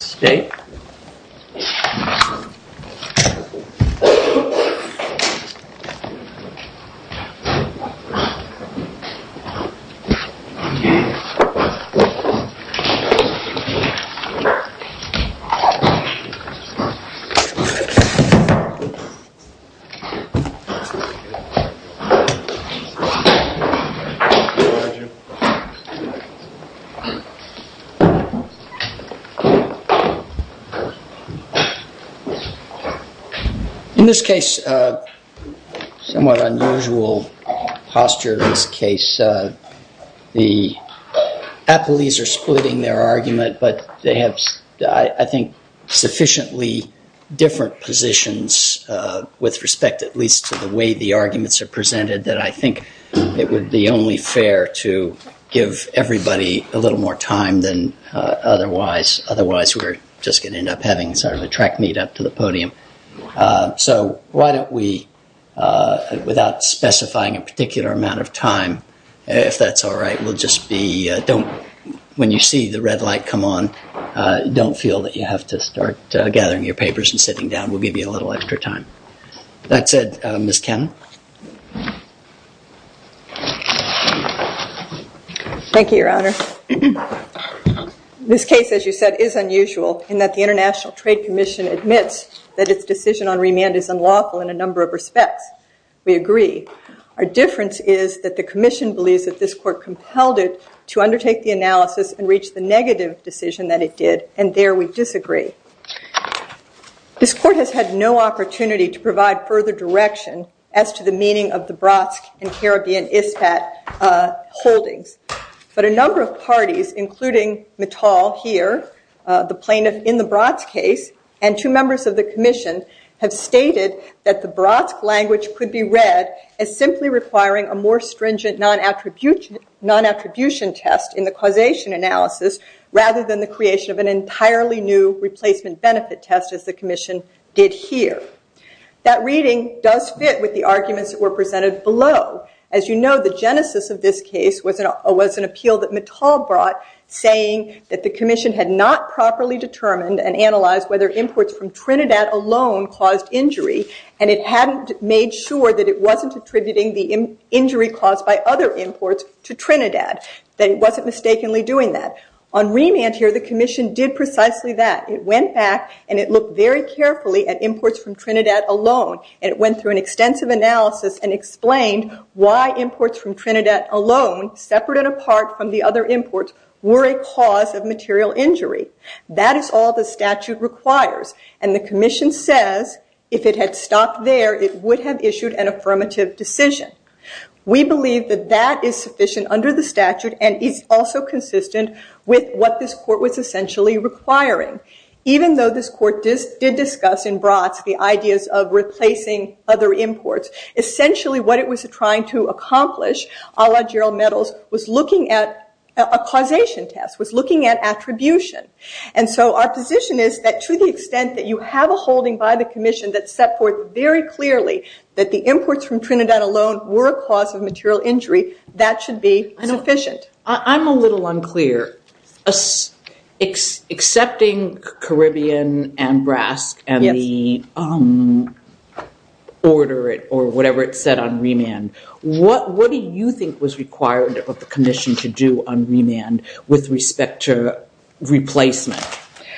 State In this case, somewhat unusual posture in this case, the athletes are splitting their argument but they have, I think, sufficiently different positions with respect at least to the way the arguments are presented that I think it would be only fair to give everybody a little more time than otherwise, otherwise we're just going to end up having sort of a track meet up to the podium. So, why don't we, without specifying a particular amount of time, if that's all right, we'll just be, don't, when you see the red light come on, don't feel that you have to start gathering your papers and sitting down. We'll give you a little extra time. With that said, Ms. Cannon. Thank you, Your Honor. This case, as you said, is unusual in that the International Trade Commission admits that its decision on remand is unlawful in a number of respects. We agree. Our difference is that the commission believes that this court compelled it to undertake the analysis and reach the negative decision that it did, and there we disagree. This court has had no opportunity to provide further direction as to the meaning of the BRASC and Caribbean ISPAT holdings. But a number of parties, including Mittal here, the plaintiff in the BRASC case, and two members of the commission have stated that the BRASC language could be read as simply requiring a more stringent non-attribution test in the causation analysis rather than the creation of an entirely new replacement benefit test as the commission did here. That reading does fit with the arguments that were presented below. As you know, the genesis of this case was an appeal that Mittal brought saying that the commission had not properly determined and analyzed whether imports from Trinidad alone caused injury, and it hadn't made sure that it wasn't attributing the injury caused by other imports to Trinidad, that it wasn't mistakenly doing that. On remand here, the commission did precisely that. It went back and it looked very carefully at imports from Trinidad alone, and it went through an extensive analysis and explained why imports from Trinidad alone, separate and apart from the other imports, were a cause of material injury. That is all the statute requires, and the commission says if it had stopped there, it would have issued an affirmative decision. We believe that that is sufficient under the statute, and it's also consistent with what this court was essentially requiring. Even though this court did discuss in broad the ideas of replacing other imports, essentially what it was trying to accomplish, a la Gerald Mittal, was looking at a causation test, was looking at attribution. And so our position is that to the extent that you have a holding by the commission that set forth very clearly that the imports from Trinidad alone were a cause of material injury, that should be inefficient. I'm a little unclear. Accepting Caribbean and BRASC and the order or whatever it said on remand, what do you think was required of the commission to do on remand with respect to replacement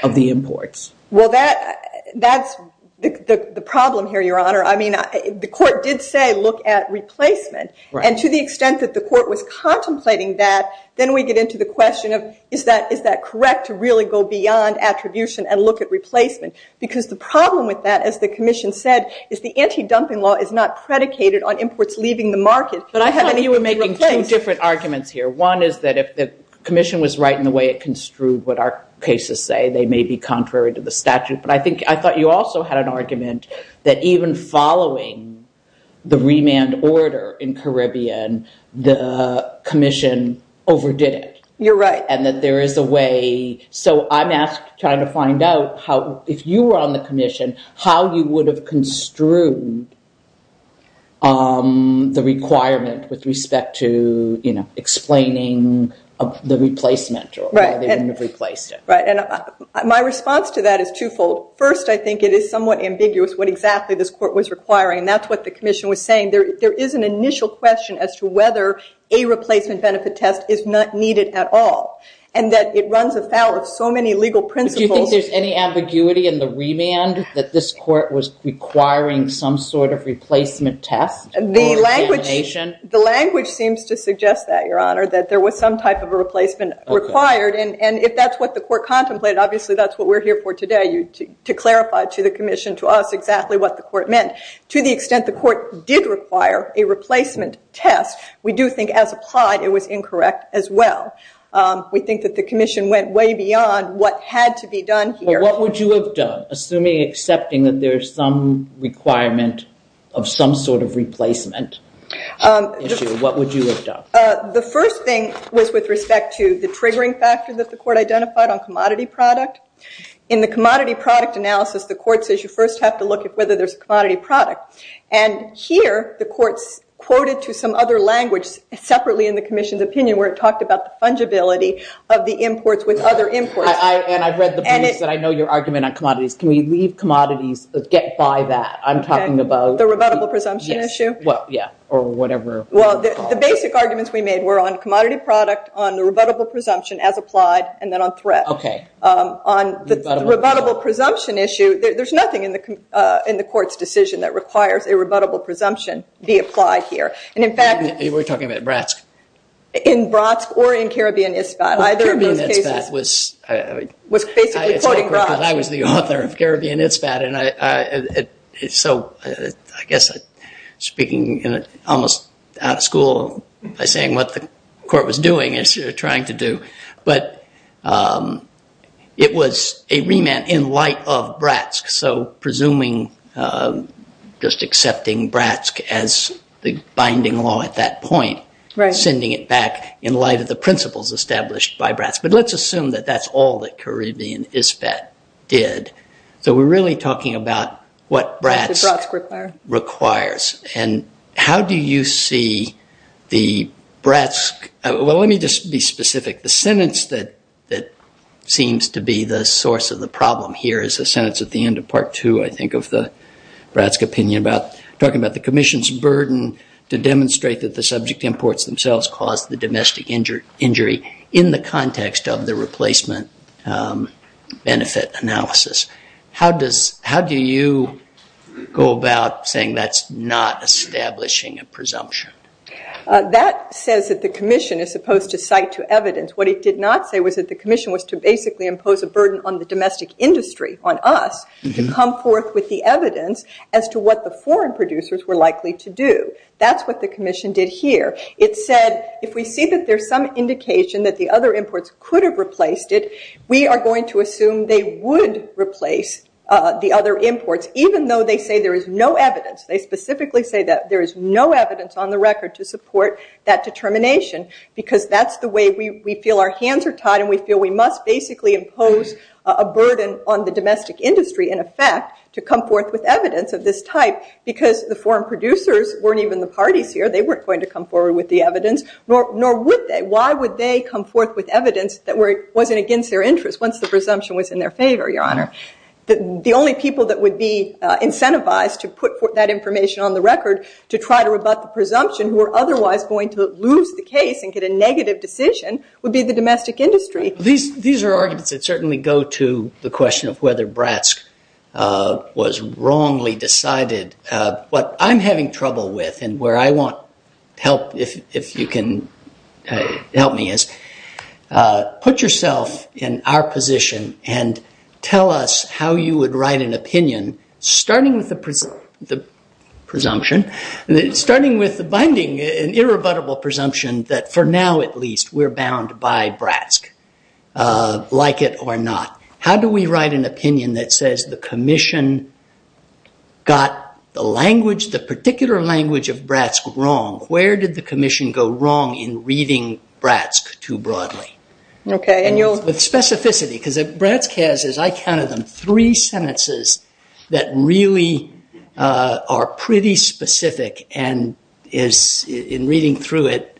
of the imports? Well, that's the problem here, Your Honor. I mean, the court did say look at replacement, and to the extent that the court was contemplating that, then we get into the question of is that correct to really go beyond attribution and look at replacement? Because the problem with that, as the commission said, is the anti-dumping law is not predicated on imports leaving the market. But I thought you were making two different arguments here. One is that if the commission was right in the way it construed what our cases say, they may be contrary to the statute. But I thought you also had an argument that even following the remand order in Caribbean, the commission overdid it. You're right. And that there is a way. So I'm asked to try to find out how, if you were on the commission, how you would have construed the requirement with respect to explaining the replacement or where they would have replaced it. My response to that is twofold. First, I think it is somewhat ambiguous what exactly this court was requiring. And that's what the commission was saying. There is an initial question as to whether a replacement benefit test is not needed at all. And that it runs us out of so many legal principles. Do you think there's any ambiguity in the remand that this court was requiring some sort of replacement test? The language seems to suggest that, Your Honor, that there was some type of a replacement required. And if that's what the court contemplated, obviously that's what we're here for today, to clarify to the commission, to us, exactly what the court meant. To the extent the court did require a replacement test, we do think as applied it was incorrect as well. We think that the commission went way beyond what had to be done here. Well, what would you have done, assuming, accepting that there's some requirement of some sort of replacement issue, what would you have done? The first thing was with respect to the triggering factor that the court identified on commodity product. In the commodity product analysis, the court says you first have to look at whether there's a commodity product. And here, the court quoted to some other language, separately in the commission's opinion, where it talked about the fungibility of the imports with other imports. And I've read the book, and I know your argument on commodities. Can we leave commodities, but get by that? I'm talking about... The rebuttable presumption issue? Well, yeah. Or whatever... Well, the basic arguments we made were on commodity product, on the rebuttable presumption as applied, and then on threat. Okay. On the rebuttable presumption issue, there's nothing in the court's decision that requires a rebuttable presumption be applied here. And in fact... We're talking about BRASC. In BRASC or in Caribbean ISFAT, either of these cases... Caribbean ISFAT was... Was basically quoting BRASC. I was the author of Caribbean ISFAT, and I... I guess speaking almost out of school by saying what the court was doing, as you're trying to do, but it was a remand in light of BRASC. So presuming, just accepting BRASC as the binding law at that point, sending it back in light of the principles established by BRASC. But let's assume that that's all that Caribbean ISFAT did. So we're really talking about what BRASC requires. And how do you see the BRASC... Well, let me just be specific. The sentence that seems to be the source of the problem here is the sentence at the end of part two, I think, of the BRASC opinion about talking about the commission's burden to demonstrate that the subject imports themselves caused the domestic injury in the context of the replacement benefit analysis. How does... How do you go about saying that's not establishing a presumption? That says that the commission is supposed to cite to evidence. What it did not say was that the commission was to basically impose a burden on the domestic industry, on us, to come forth with the evidence as to what the foreign producers were likely to do. That's what the commission did here. It said, if we think that there's some indication that the other imports could have replaced it, we are going to assume they would replace the other imports, even though they say there is no evidence. They specifically say that there is no evidence on the record to support that determination because that's the way we feel our hands are tied. And we feel we must basically impose a burden on the domestic industry, in effect, to come forth with evidence of this type because the foreign producers weren't even the parties here. They weren't going to come forward with the evidence, nor would they. Why would they come forth with evidence that wasn't against their interest once the presumption was in their favor, Your Honor? The only people that would be incentivized to put that information on the record to try to rebut the presumption, who are otherwise going to lose the case and get a negative decision, would be the domestic industry. These are arguments that certainly go to the question of whether BRASC was wrongly decided. What I'm having trouble with and where I want help, if you can help me, is put yourself in our position and tell us how you would write an opinion, starting with the presumption, starting with the binding and irrebuttable presumption that for now, at least, we're bound by BRASC, like it or not. How do we write an opinion that says the commission got the language, the particular language of BRASC wrong? Where did the commission go wrong in reading BRASC too broadly? Okay. With specificity because BRASC has, as I counted them, three sentences that really are pretty specific and in reading through it,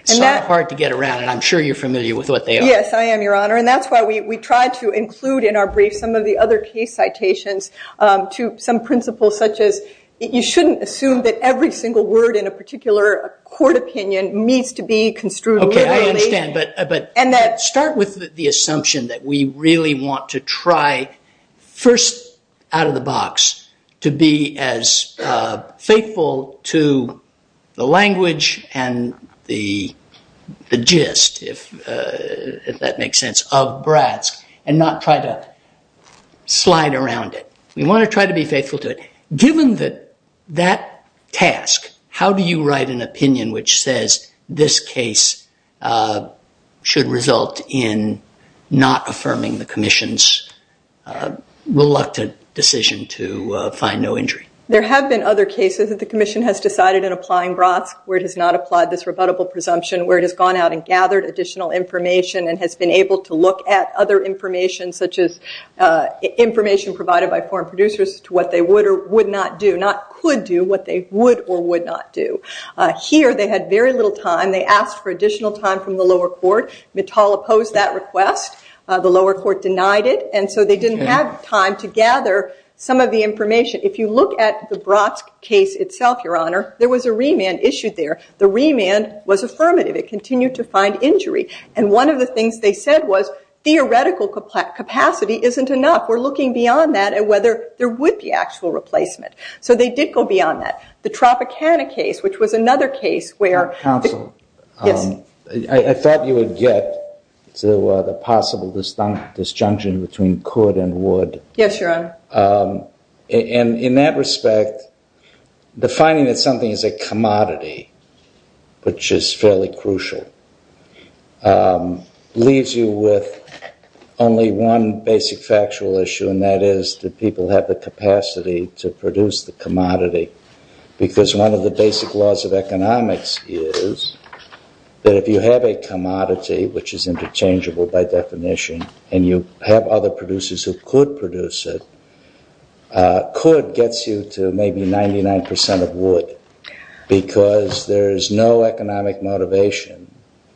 it's so hard to get around it. I'm sure you're familiar with what they are. Yes, I am, Your Honor. That's why we try to include in our BRASC some of the other case citations to some principles such as you shouldn't assume that every single word in a particular court opinion needs to be construed. Okay. I understand. Start with the assumption that we really want to try first out of the box to be as faithful to the language and the gist, if that makes sense, of BRASC and not try to slide around it. We want to try to be faithful to it. Given that task, how do you write an opinion which says this case should result in not affirming the commission's reluctant decision to find no injury? There have been other cases that the commission has decided in applying BRASC where it has not applied this rebuttable presumption, where it has gone out and gathered additional information and has been able to look at other information such as information provided by foreign producers to what they would or would not do, not could do, what they would or would not do. Here, they had very little time. They asked for additional time from the lower court. Natal opposed that request. The lower court denied it, and so they didn't have time to gather some of the information. If you look at the BRASC case itself, Your Honor, there was a remand issued there. The remand was affirmative. It continued to find injury, and one of the things they said was theoretical capacity isn't enough. We're looking beyond that and whether there would be actual replacement, so they did go beyond that. The Tropicana case, which was another case where- Counsel. Yes. I thought you would get to the possible disjunction between could and would. Yes, Your Honor. In that respect, defining that something is a commodity, which is fairly crucial, leaves you with only one basic factual issue, and that is that people have the capacity to produce the commodity because one of the basic laws of economics is that if you have a commodity, which is interchangeable by definition, and you have other producers who could produce it, could gets you to maybe 99% of would because there is no economic motivation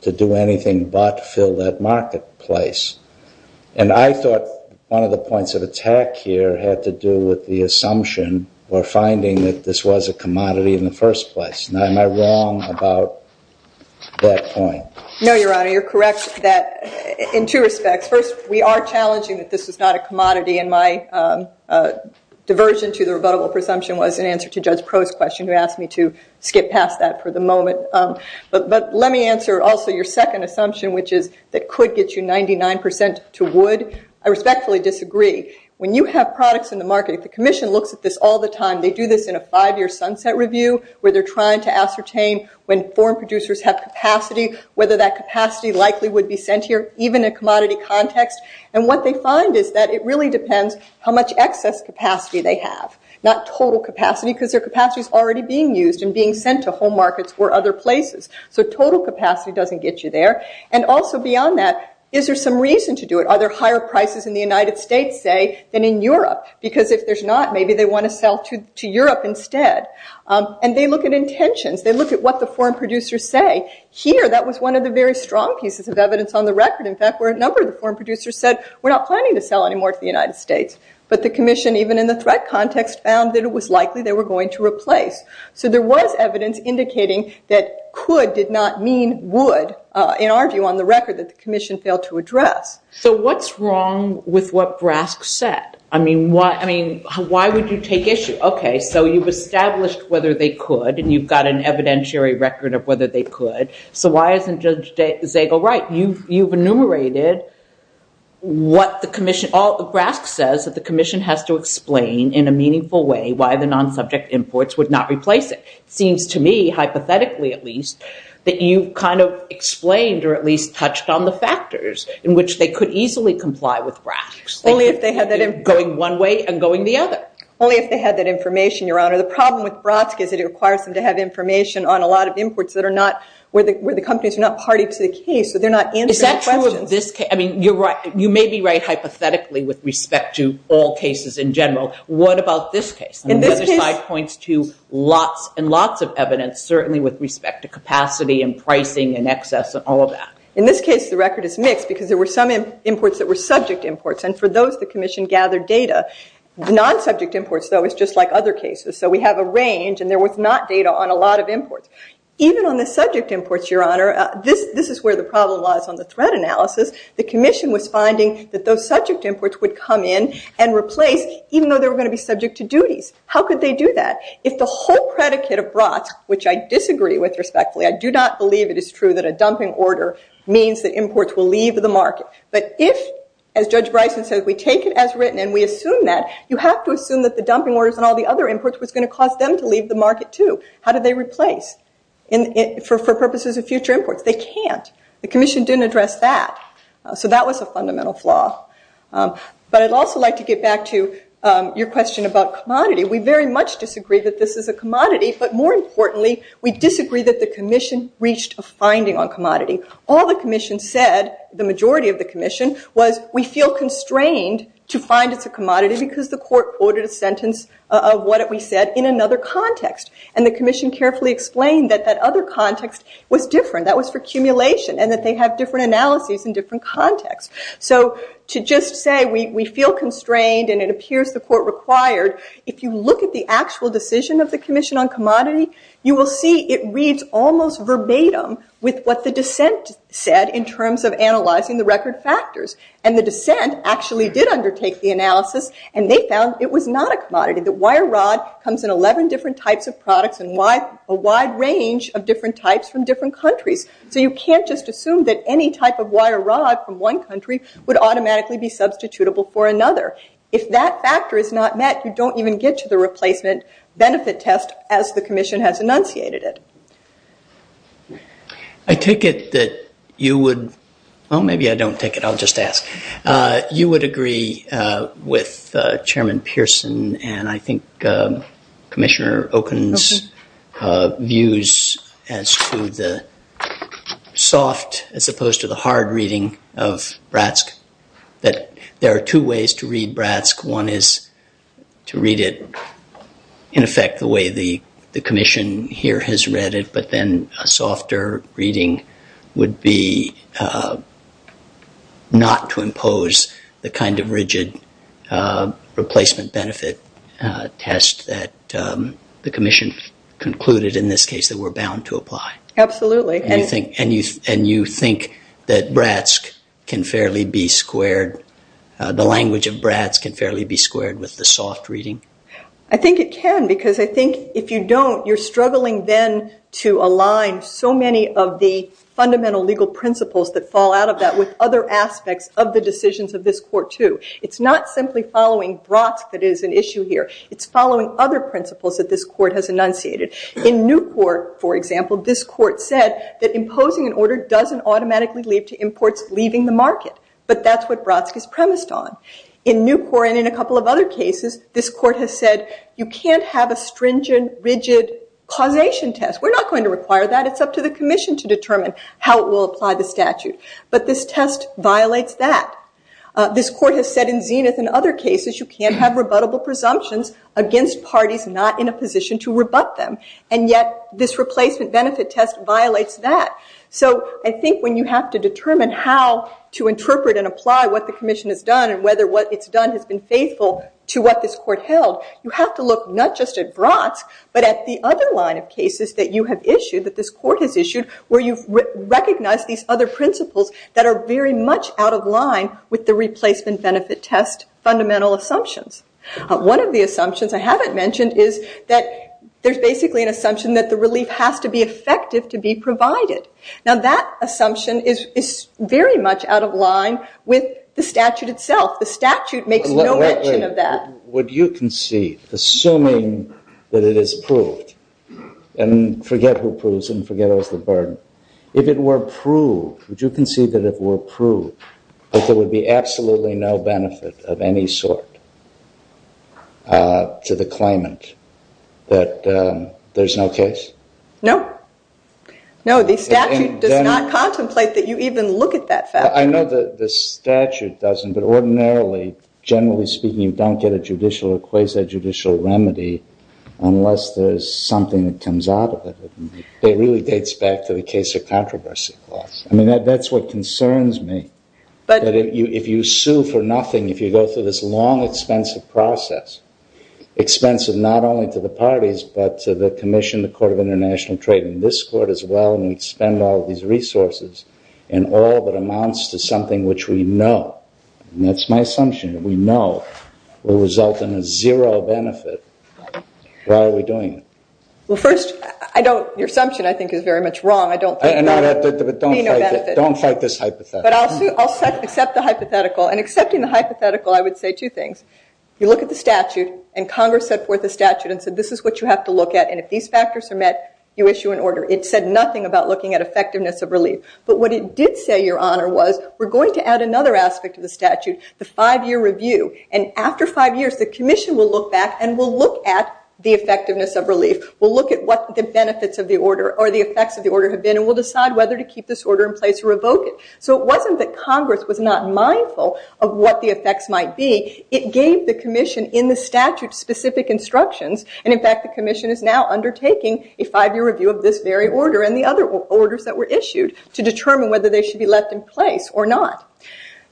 to do anything but fill that marketplace, and I thought one of the points of attack here had to do with the assumption or finding that this was a commodity in the first place. Am I wrong about that point? No, Your Honor. You're correct in two respects. First, we are challenging that this is not a commodity, and my diversion to the rebuttable presumption was in answer to Judge Crow's question who asked me to skip past that for the moment, but let me answer also your second assumption, which is it could get you 99% to would. I respectfully disagree. When you have products in the market, the commission looks at this all the time. They do this in a five-year sunset review where they're trying to ascertain when foreign producers have capacity, whether that capacity likely would be sent here, even in a commodity context, and what they find is that it really depends how much excess capacity they have, not total capacity because their capacity is already being used and being sent to whole markets or other places, so total capacity doesn't get you there, and also beyond that, is there some reason to do it? Are there higher prices in the United States, say, than in Europe because if there's not, maybe they want to sell to Europe instead, and they look at intentions. They look at what the foreign producers say. Here, that was one of the very strong pieces of evidence on the record. In fact, where a number of the foreign producers said, we're not planning to sell anymore to the United States, but the commission, even in the threat context, found that it was likely they were going to replace, so there was evidence indicating that could did not mean would in our view on the record that the commission failed to address. So what's wrong with what Brask said? I mean, why would you take issue? Okay, so you've established whether they could, and you've got an evidentiary record of whether they could, so why isn't Judge Zagel right? You've enumerated what the commission, Brask says that the commission has to explain in a meaningful way why the non-subject imports would not replace it. Seems to me, hypothetically at least, that you kind of explained or at least touched on the factors in which they could easily comply with Brask's. Only if they had that information. Going one way and going the other. Only if they had that information, Your Honor. The problem with Brask is it requires them to have information on a lot of imports that are not, where the companies are not party to the case, but they're not answering questions. Is that true of this case? I mean, you're right. You may be right hypothetically with respect to all cases in general. What about this case? And this case. And Judge Zagel points to lots and lots of evidence, certainly with respect to capacity and pricing and excess and all of that. In this case, the record is mixed because there were some imports that were subject imports, and for those, the commission gathered data. Non-subject imports, though, is just like other cases. So we have a range, and there was not data on a lot of imports. Even on the subject imports, Your Honor, this is where the problem was on the threat analysis. The commission was finding that those subject imports would come in and replace even though they were going to be subject to duties. How could they do that? If the whole predicate of Brask, which I disagree with respectfully, I do not believe it is true that a dumping order means that imports will leave the market. But if, as Judge Bryson says, we take it as written and we assume that, you have to assume that the dumping orders and all the other imports was going to cause them to leave the market, too. How do they replace for purposes of future imports? They can't. The commission didn't address that. So that was a fundamental flaw. But I'd also like to get back to your question about commodity. We very much disagree that this is a commodity, but more importantly, we disagree that the commission reached a finding on commodity. All the commission said, the majority of the commission, was we feel constrained to find it's a commodity because the court ordered a sentence of what we said in another context. And the commission carefully explained that that other context was different. That was for accumulation and that they had different analyses in different contexts. So to just say we feel constrained and it appears the court required, if you look at the actual decision of the commission on commodity, you will see it reads almost verbatim with what the dissent said in terms of analyzing the record factors. And the dissent actually did undertake the analysis and they found it was not a commodity. The wire rod comes in 11 different types of products and a wide range of different types from different countries. So you can't just assume that any type of wire rod from one country would automatically be substitutable for another. If that factor is not met, you don't even get to the replacement benefit test as the commission has enunciated it. I take it that you would, well maybe I don't take it, I'll just ask. You would agree with Chairman Pierson and I think Commissioner Okun's views as to the soft as opposed to the hard reading of Bratsk that there are two ways to read Bratsk. One is to read it in effect the way the commission here has read it but then a softer reading would be not to impose the kind of rigid replacement benefit test that the commission concluded in this case that we're bound to apply. Absolutely. And you think that Bratsk can fairly be squared, the language of Bratsk can fairly be squared with the soft reading? I think it can because I think if you don't, you're struggling then to align so many of the fundamental legal principles that fall out of that with other aspects of the decisions of this court too. It's not simply following Bratsk that is an issue here. It's following other principles that this court has enunciated. In Newport, for example, this court said that imposing an order doesn't automatically lead to imports leaving the market but that's what Bratsk is premised on. In Newport and in a couple of other cases, this court has said you can't have a stringent rigid causation test. We're not going to require that. It's up to the commission to determine how it will apply the statute but this test violates that. This court has said in Zenith and other cases you can't have rebuttable presumptions against parties not in a position to rebut them and yet this replacement benefit test violates that. So I think when you have to determine how to interpret and apply what the commission has done and whether what it's done has been faithful to what this court held, you have to look not just at Bratsk but at the other line of cases that you have issued that this court has issued where you recognize these other principles that are very much out of line with the replacement benefit test fundamental assumptions. One of the assumptions I haven't mentioned is that there's basically an assumption that the relief has to be effective to be provided. Now that assumption is very much out of line with the statute itself. The statute makes no mention of that. Would you concede, assuming that it is proved, and forget who proves and forget about the burden, if it were proved, would you concede that it were proved that there would be absolutely no benefit of any sort to the claimant, that there's no case? No. No, the statute does not contemplate that you even look at that statute. I know that the statute doesn't, but ordinarily, generally speaking, you don't get a judicial equation, a judicial remedy, unless there's something that comes out of it. It really dates back to the case of controversy clause. I mean, that's what concerns me. If you sue for nothing, if you go through this long, expensive process, expensive not only to the parties, but to the commission, the court of international trade, and this court as well, and we spend all of these resources in all that amounts to something which we know, and that's my assumption, that we know, will result in a zero benefit, why are we doing it? Well, first, your assumption, I think, is very much wrong. Don't fight this hypothetical. But I'll accept the hypothetical. And accepting the hypothetical, I would say two things. You look at the statute, and Congress set forth a statute and said, this is what you have to look at. And if these factors are met, you issue an order. It said nothing about looking at effectiveness of relief. But what it did say, Your Honor, was, we're going to add another aspect to the statute, the five-year review. And after five years, the commission will look back, and we'll look at the effectiveness of relief. We'll look at what the benefits of the order or the effects of the order have been, and we'll decide whether to keep this order in place or revoke it. So it wasn't that Congress was not mindful of what the effects might be. It gave the commission, in the statute, specific instructions. And in fact, the commission is now undertaking a five-year review of this very order and the other orders that were issued to determine whether they should be left in place or not.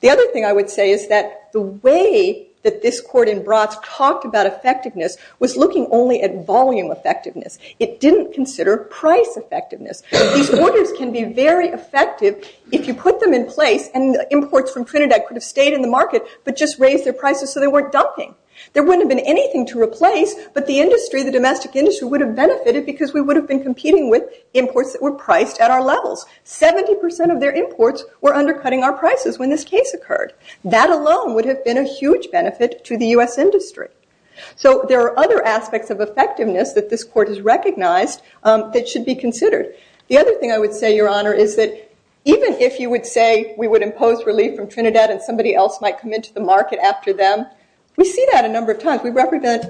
The other thing I would say is that the way that this court in Bras talked about effectiveness was looking only at volume effectiveness. It didn't consider price effectiveness. These orders can be very effective if you put them in place, and imports from Trinidad could have stayed in the market but just raised their prices so they weren't dumping. There wouldn't have been anything to replace, but the industry, the domestic industry, would have benefited because we would have been competing with imports that were priced at our levels. 70% of their imports were undercutting our prices when this case occurred. That alone would have been a huge benefit to the U.S. industry. So there are other aspects of effectiveness that this court has recognized that should be considered. The other thing I would say, Your Honor, is that even if you would say we would impose relief from Trinidad and somebody else might come into the market after them, we see that a number of times. We represent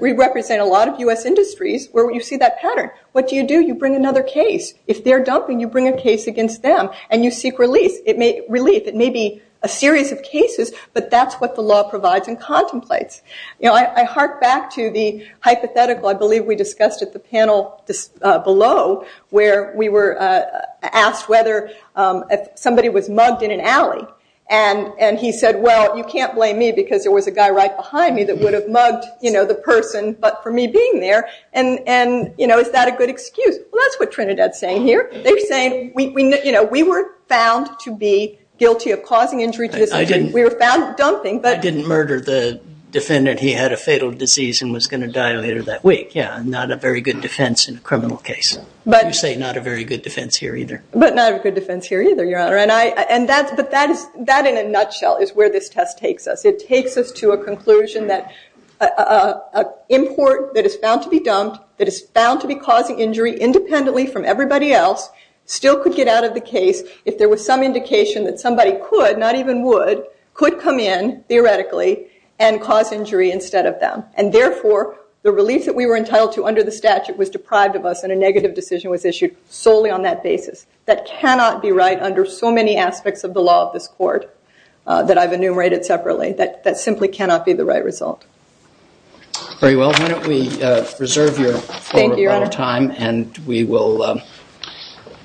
a lot of U.S. industries where we see that pattern. What do you do? You bring another case. If they're dumping, you bring a case against them, and you seek relief. It may be a series of cases, but that's what the law provides and contemplates. I hark back to the hypothetical I believe we discussed at the panel below where we were asked whether somebody was mugged in an alley. He said, Well, you can't blame me because there was a guy right behind me that would have mugged the person but for me being there. Is that a good excuse? Well, that's what Trinidad's saying here. They're saying we weren't found to be guilty of causing injuries. We were found dumping. I didn't murder the defendant. He had a fatal disease and was going to die later that week. Not a very good defense in a criminal case. You say not a very good defense here either. But not a good defense here either, Your Honor. That in a nutshell is where this test takes us. It takes us to a conclusion that an import that is found to be dumped, that is found to be causing injury independently from everybody else still could get out of the case if there was some indication that somebody could, not even would, could come in theoretically and cause injury instead of them. And therefore, the release that we were entitled to under the statute was deprived of us and a negative decision was issued solely on that basis. That cannot be right under so many aspects of the law of this court that I've enumerated separately. That simply cannot be the right result. Very well. Why don't we reserve your time and we will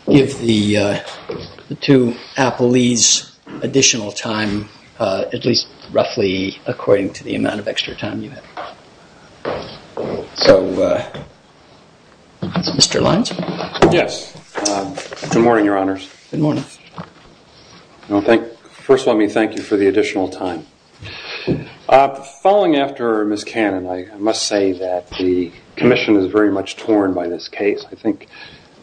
give the two appellees additional time, at least roughly according to the amount of extra time you have. So, Mr. Lyons? Yes. Good morning, Your Honors. Good morning. First, let me thank you for the additional time. Following after Ms. Cannon, I must say that the commission is very much torn by this case. I think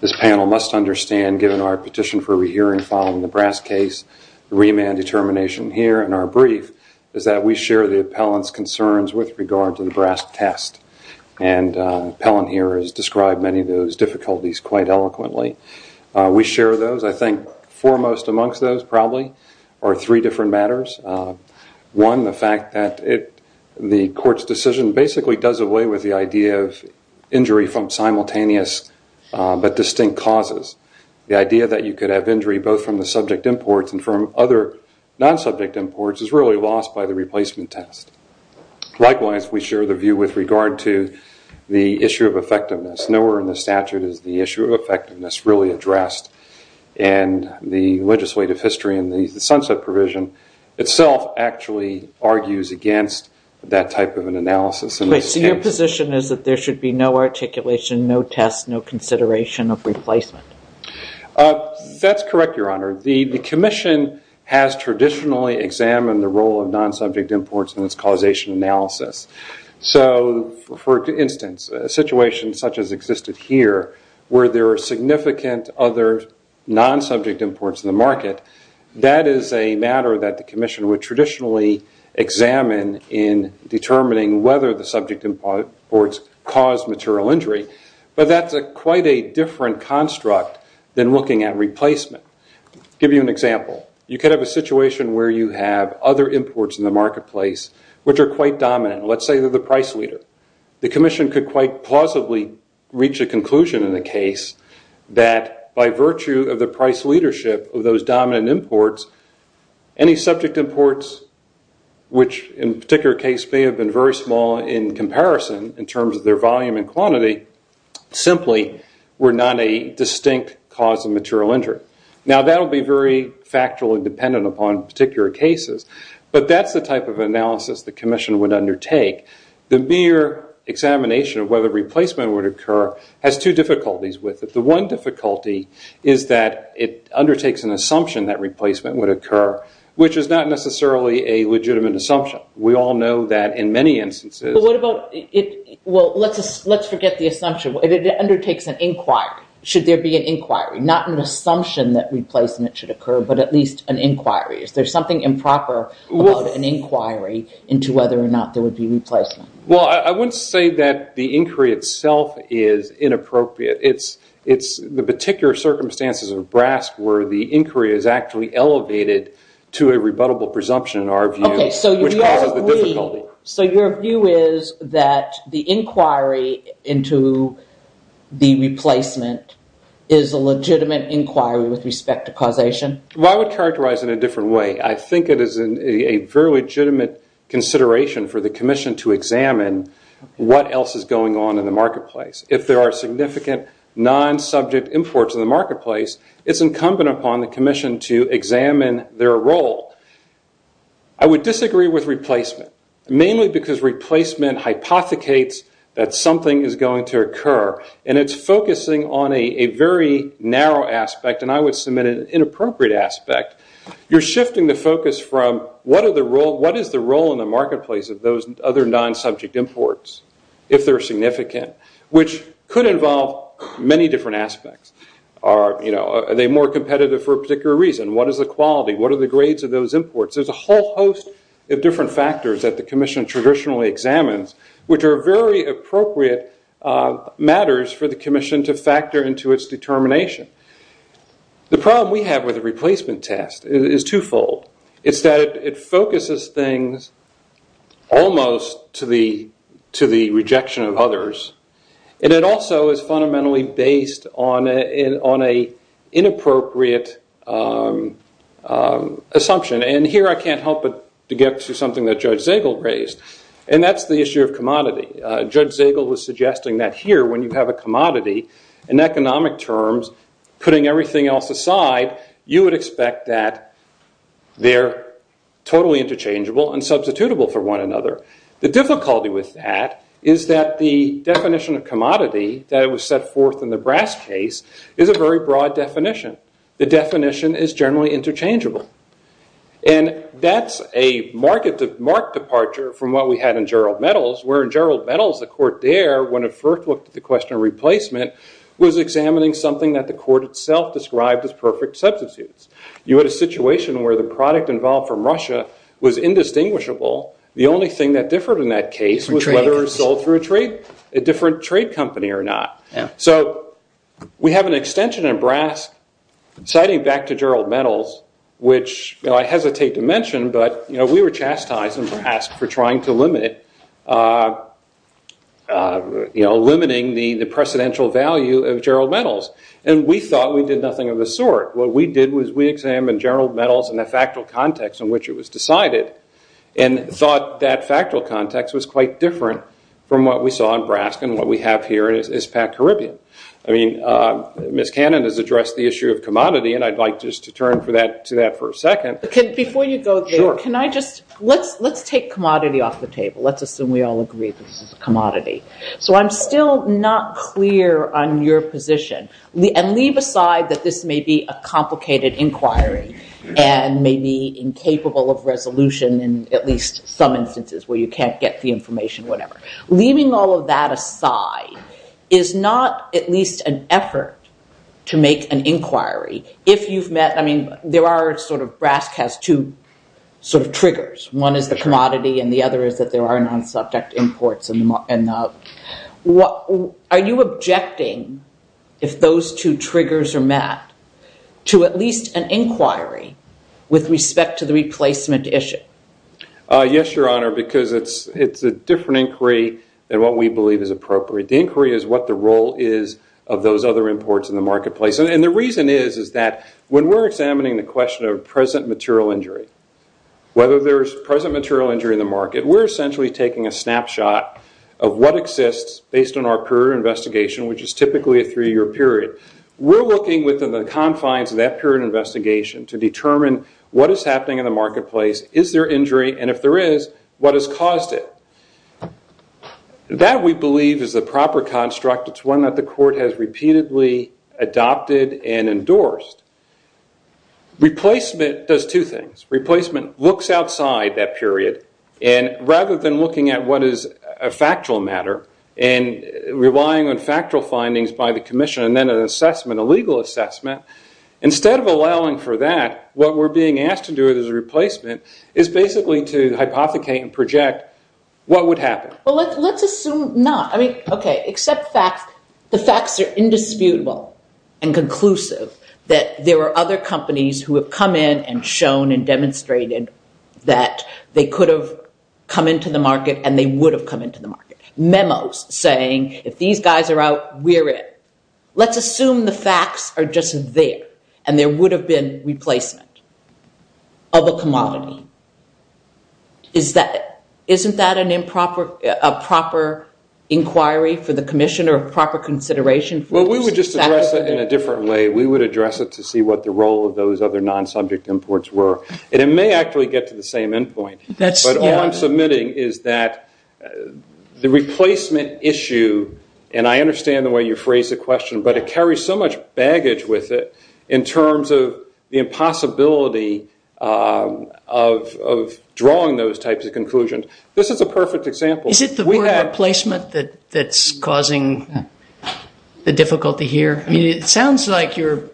this panel must understand, given our petition for a rehearing following the Brass case, the remand determination here in our brief is that we share the appellant's concerns with regards to the Brass test. And the appellant here has described many of those difficulties quite eloquently. We share those. I think foremost amongst those probably are three different matters. One, the fact that the court's decision basically does away with the idea of injury from simultaneous but distinct causes. The idea that you could have injury both from the subject imports and from other non-subject imports is really lost by the replacement test. Likewise, we share the view with regard to the issue of effectiveness. Nowhere in the statute is the issue of effectiveness really addressed. And the legislative history and the sunset provision itself actually argues against that type of an analysis. So your position is that there should be no articulation, no test, no consideration of replacement? That's correct, Your Honor. The commission has traditionally examined the role of non-subject imports in its causation analysis. So for instance, a situation such as existed here where there are significant other non-subject imports in the market, that is a matter that the commission would traditionally examine in determining whether the subject imports caused material injury. But that's quite a different construct than looking at replacement. To give you an example, you could have a situation where you have other imports in the market, let's say you're the price leader. The commission could quite plausibly reach a conclusion in the case that by virtue of the price leadership of those dominant imports, any subject imports, which in a particular case may have been very small in comparison in terms of their volume and quantity, simply were not a distinct cause of material injury. Now that would be very factual and dependent upon particular cases, but that's the type of analysis the commission would undertake. The mere examination of whether replacement would occur has two difficulties with it. The one difficulty is that it undertakes an assumption that replacement would occur, which is not necessarily a legitimate assumption. We all know that in many instances... But what about... Well, let's forget the assumption. It undertakes an inquiry. Should there be an inquiry? Not an assumption that replacement should occur, but at least an inquiry. There's something improper about an inquiry into whether or not there would be replacement. Well, I wouldn't say that the inquiry itself is inappropriate. It's the particular circumstances of BRASC where the inquiry is actually elevated to a rebuttable presumption in our view. Okay, so your view is that the inquiry into the replacement is a legitimate inquiry with respect to causation? Well, I would characterize it in a different way. I think it is a very legitimate consideration for the commission to examine what else is going on in the marketplace. If there are significant non-subject imports in the marketplace, it's incumbent upon the commission to examine their role. I would disagree with replacement, mainly because replacement hypothecates that something is going to occur, and it's focusing on a very narrow aspect, and I would submit it is an appropriate aspect. You're shifting the focus from what is the role in the marketplace of those other non-subject imports, if they're significant, which could involve many different aspects. Are they more competitive for a particular reason? What is the quality? What are the grades of those imports? There's a whole host of different factors that the commission traditionally examines, which are very appropriate matters for the commission to factor into its determination. The problem we have with the replacement test is twofold. It's that it focuses things almost to the rejection of others, and it also is fundamentally based on an inappropriate assumption. Here, I can't help but get to something that Judge Zagel raised, and that's the issue of commodity. Judge Zagel was suggesting that here, when you have a commodity, in economic terms, putting everything else aside, you would expect that they're totally interchangeable and substitutable for one another. The difficulty with that is that the definition of commodity that was set forth in the brass case is a very broad definition. The definition is generally interchangeable, and that's a marked departure from what we the court there, when it first looked at the question of replacement, was examining something that the court itself described as perfect subsidies. You had a situation where the product involved from Russia was indistinguishable. The only thing that differed in that case was whether it was sold through a different trade company or not. We have an extension in brass, citing back to Gerald Metals, which I hesitate to mention, but we were chastised in brass for trying to limit it, limiting the precedential value of Gerald Metals. We thought we did nothing of the sort. What we did was we examined Gerald Metals in the factual context in which it was decided and thought that factual context was quite different from what we saw in brass and what we have here is packed Caribbean. Ms. Cannon has addressed the issue of commodity, and I'd like just to turn to that for a second. Before you go, let's take commodity off the table. Let's assume we all agree this is a commodity. I'm still not clear on your position, and leave aside that this may be a complicated inquiry and may be incapable of resolution in at least some instances where you can't get the information, whatever. Leaving all of that aside is not at least an effort to make an inquiry. Brass has two triggers. One is the commodity, and the other is that there are non-subject imports. Are you objecting, if those two triggers are met, to at least an inquiry with respect to the replacement issue? Yes, Your Honor, because it's a different inquiry than what we believe is appropriate. The inquiry is what the role is of those other imports in the marketplace. The reason is that when we're examining the question of present material injury, whether there's present material injury in the market, we're essentially taking a snapshot of what exists based on our current investigation, which is typically a three-year period. We're looking within the confines of that current investigation to determine what is happening in the marketplace, is there injury, and if there is, what has caused it. That, we believe, is the proper construct. It's one that the court has repeatedly adopted and endorsed. Replacement does two things. Replacement looks outside that period, and rather than looking at what is a factual matter and relying on factual findings by the commission and then an assessment, a legal assessment, instead of allowing for that, what we're being asked to do as a replacement is basically to hypothecate and project what would happen. Let's assume not, okay, except the facts are indisputable and conclusive that there are other companies who have come in and shown and demonstrated that they could have come into the market and they would have come into the market. Memos saying, if these guys are out, we're in. Let's assume the facts are just there and there would have been replacement of a commodity. Is that it? A proper inquiry for the commission or proper consideration? We would just address it in a different way. We would address it to see what the role of those other non-subject imports were. It may actually get to the same end point, but all I'm submitting is that the replacement issue, and I understand the way you phrased the question, but it carries so much baggage with it in terms of the impossibility of drawing those types of conclusions. This is a perfect example. Is it the word replacement that's causing the difficulty here? I mean, it sounds like you're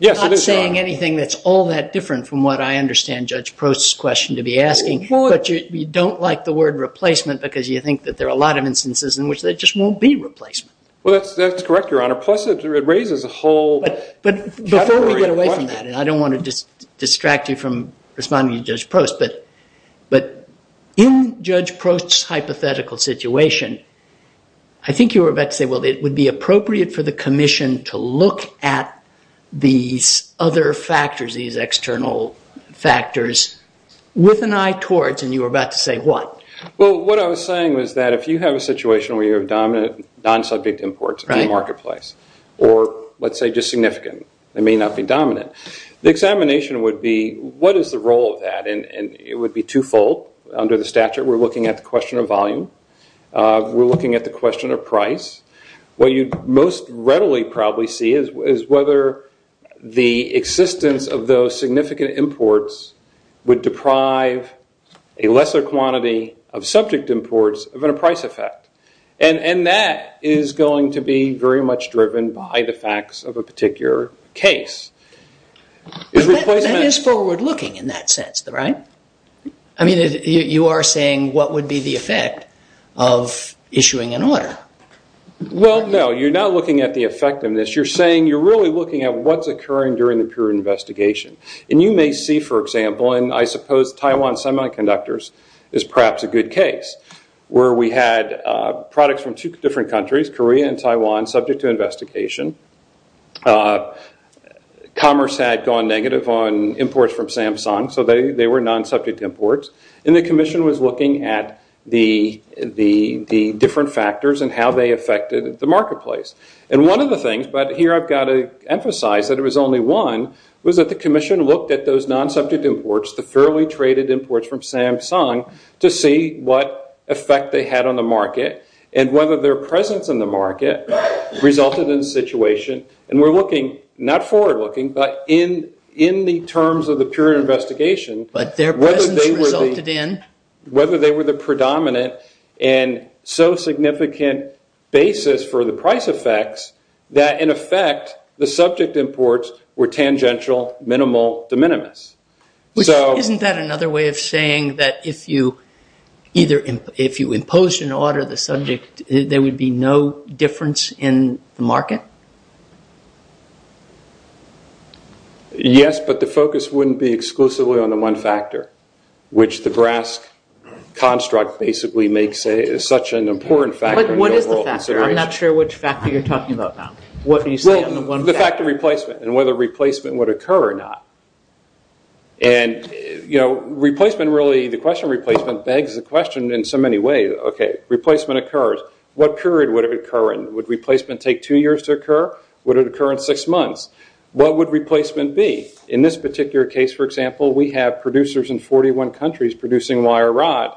not saying anything that's all that different from what I understand Judge Prost's question to be asking, but you don't like the word replacement because you think that there are a lot of instances in which there just won't be replacement. Well, that's correct, Your Honor. Plus, it raises a whole category of questions. Before we get away from that, and I don't want to distract you from responding to Judge Prost, but in Judge Prost's hypothetical situation, I think you were about to say, well, it would be appropriate for the commission to look at these other factors, these external factors with an eye towards, and you were about to say what? Well, what I was saying was that if you have a situation where you have non-subject imports in the marketplace, or let's say just significant, they may not be dominant, the examination would be what is the role of that, and it would be twofold. Under the statute, we're looking at the question of volume. We're looking at the question of price. What you most readily probably see is whether the existence of those significant imports would deprive a lesser quantity of subject imports of a price effect, and that is going to be very much driven by the facts of a particular case. That is forward-looking in that sense, right? I mean, you are saying what would be the effect of issuing an order. Well, no. You're not looking at the effectiveness. You're saying you're really looking at what's occurring during the period of investigation, and you may see, for example, and I suppose Taiwan Semiconductors is perhaps a good case where we had products from two different countries, Korea and Taiwan, subject to investigation. Commerce had gone negative on imports from Samsung, so they were non-subject imports, and the Commission was looking at the different factors and how they affected the marketplace. One of the things, but here I've got to emphasize that it was only one, was that the Commission looked at those non-subject imports, the fairly traded imports from Samsung, to see what effect they had on the market, and whether their presence in the market resulted in the situation, and we're looking, not forward-looking, but in the terms of the period of investigation, whether they were the predominant and so significant basis for the price effects that, in effect, the subject imports were tangential, minimal, de minimis. Isn't that another way of saying that if you imposed an order on the subject, there would be no difference in the market? Yes, but the focus wouldn't be exclusively on the one factor, which the BRASC construct basically makes such an important factor. What is the factor? I'm not sure which factor you're talking about now. The factor of replacement and whether replacement would occur or not. The question of replacement begs the question in so many ways. Okay, replacement occurs. What period would it occur in? Would replacement take two years to occur? Would it occur in six months? What would replacement be? In this particular case, for example, we have producers in 41 countries producing wire rod.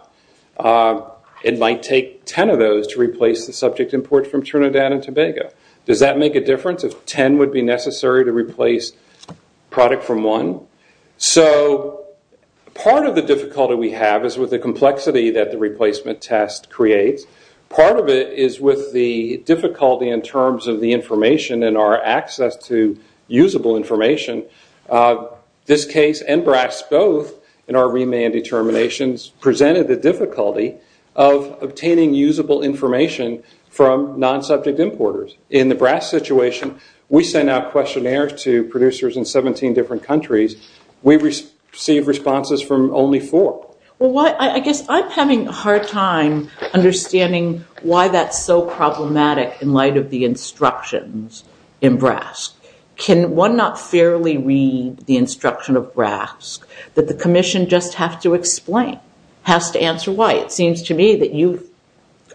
It might take 10 of those to replace the subject imports from Trinidad and Tobago. Does that make a difference if 10 would be necessary to replace a product from one? Part of the difficulty we have is with the complexity that the replacement test creates. Part of it is with the difficulty in terms of the information and our access to usable information. This case and BRASC both, in our remand determinations, presented the difficulty of obtaining usable information from non-subject importers. In the BRASC situation, we sent out questionnaires to producers in 17 different countries. We received responses from only four. I guess I'm having a hard time understanding why that's so problematic in light of the instructions in BRASC. Can one not fairly read the instruction of BRASC that the commission just has to explain, has to answer why? It seems to me that you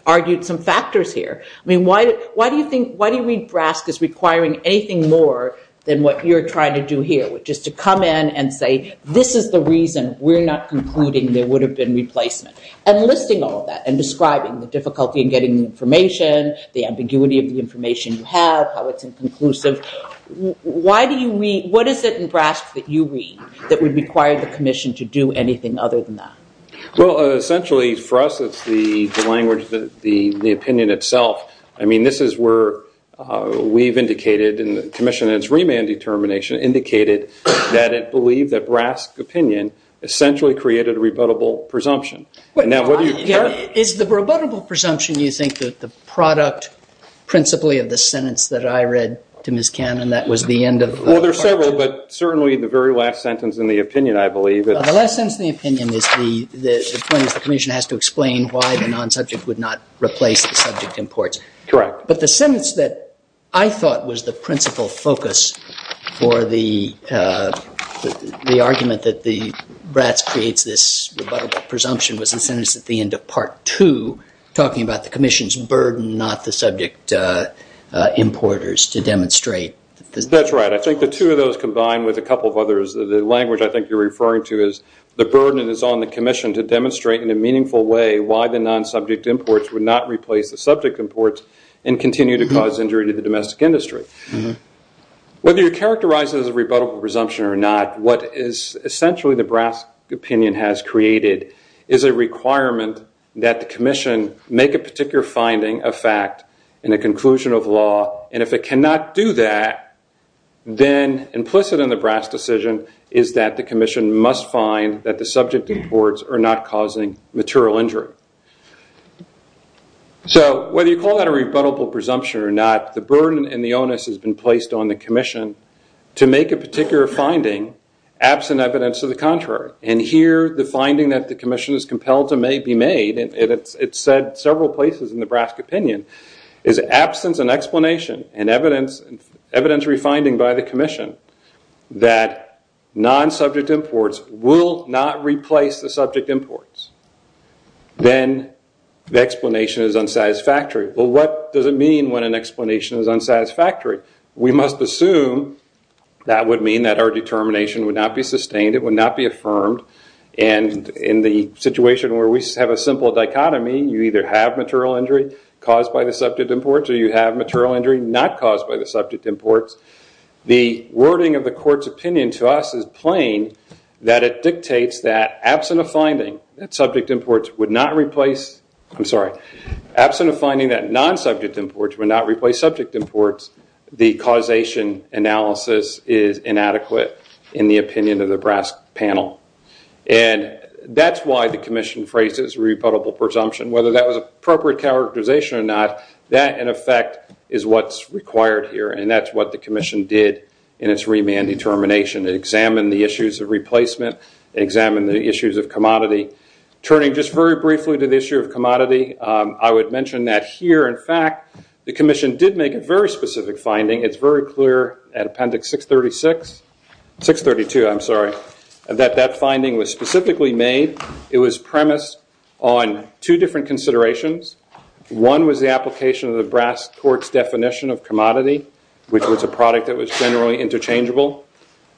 argued some factors here. I mean, why do you read BRASC as requiring anything more than what you're trying to do here, which is to come in and say, this is the reason we're not concluding there would have been replacement? And listing all of that and describing the difficulty in getting information, the ambiguity of the information you have, how it's inconclusive, what is it in BRASC that you read that would require the commission to do anything other than that? Well, essentially, for us, it's the language, the opinion itself. I mean, this is where we've indicated, and the commission in its remand determination indicated that it believed that BRASC opinion essentially created a rebuttable presumption. Is the rebuttable presumption, you think, the product, principally, of the sentence that I read to Ms. Cannon? That was the end of... Well, there's several, but certainly the very last sentence in the opinion, I believe. The last sentence in the opinion is the point that the commission has to explain why the non-subject would not replace the subject in port. Correct. But the sentence that I thought was the principal focus for the argument that the BRASC creates this rebuttable presumption was the sentence at the end of Part 2, talking about the commission's burden not the subject importers to demonstrate. That's right. I think the two of those combined with a couple of others, the language I think you're referring to is the burden that's on the commission to demonstrate in a meaningful way why the non-subject imports would not replace the subject imports and continue to cause injury to the domestic industry. Whether you characterize it as a rebuttable presumption or not, what is essentially the BRASC opinion has created is a requirement that the commission make a particular finding of fact in the conclusion of law, and if it cannot do that, then implicit in the BRASC decision is that the commission must find that the subject imports are not causing material injury. So whether you call that a rebuttable presumption or not, the burden and the onus has been placed on the commission to make a particular finding absent evidence of the contrary. And here the finding that the commission is compelled to be made, and it's said several places in the BRASC opinion, is absence and explanation and evidentiary finding by the commission that non-subject imports will not replace the subject imports. Then the explanation is unsatisfactory. Well, what does it mean when an explanation is unsatisfactory? We must assume that would mean that our determination would not be sustained, it would not be affirmed, and in the situation where we have a simple dichotomy, you either have material injury caused by the subject imports or you have material injury not caused by the subject imports, the wording of the court's opinion to us is plain that it dictates that absent a finding that non-subject imports would not replace subject imports, the causation analysis is inadequate in the opinion of the BRASC panel. And that's why the commission phrases rebuttable presumption. Whether that was appropriate characterization or not, that, in effect, is what's required here, and that's what the commission did in its remand determination to examine the issues of replacement, examine the issues of commodity. Turning just very briefly to the issue of commodity, I would mention that here, in fact, the commission did make a very specific finding. It's very clear at Appendix 632 that that finding was specifically made. It was premised on two different considerations. One was the application of the BRASC court's definition of commodity, which was a product that was generally interchangeable.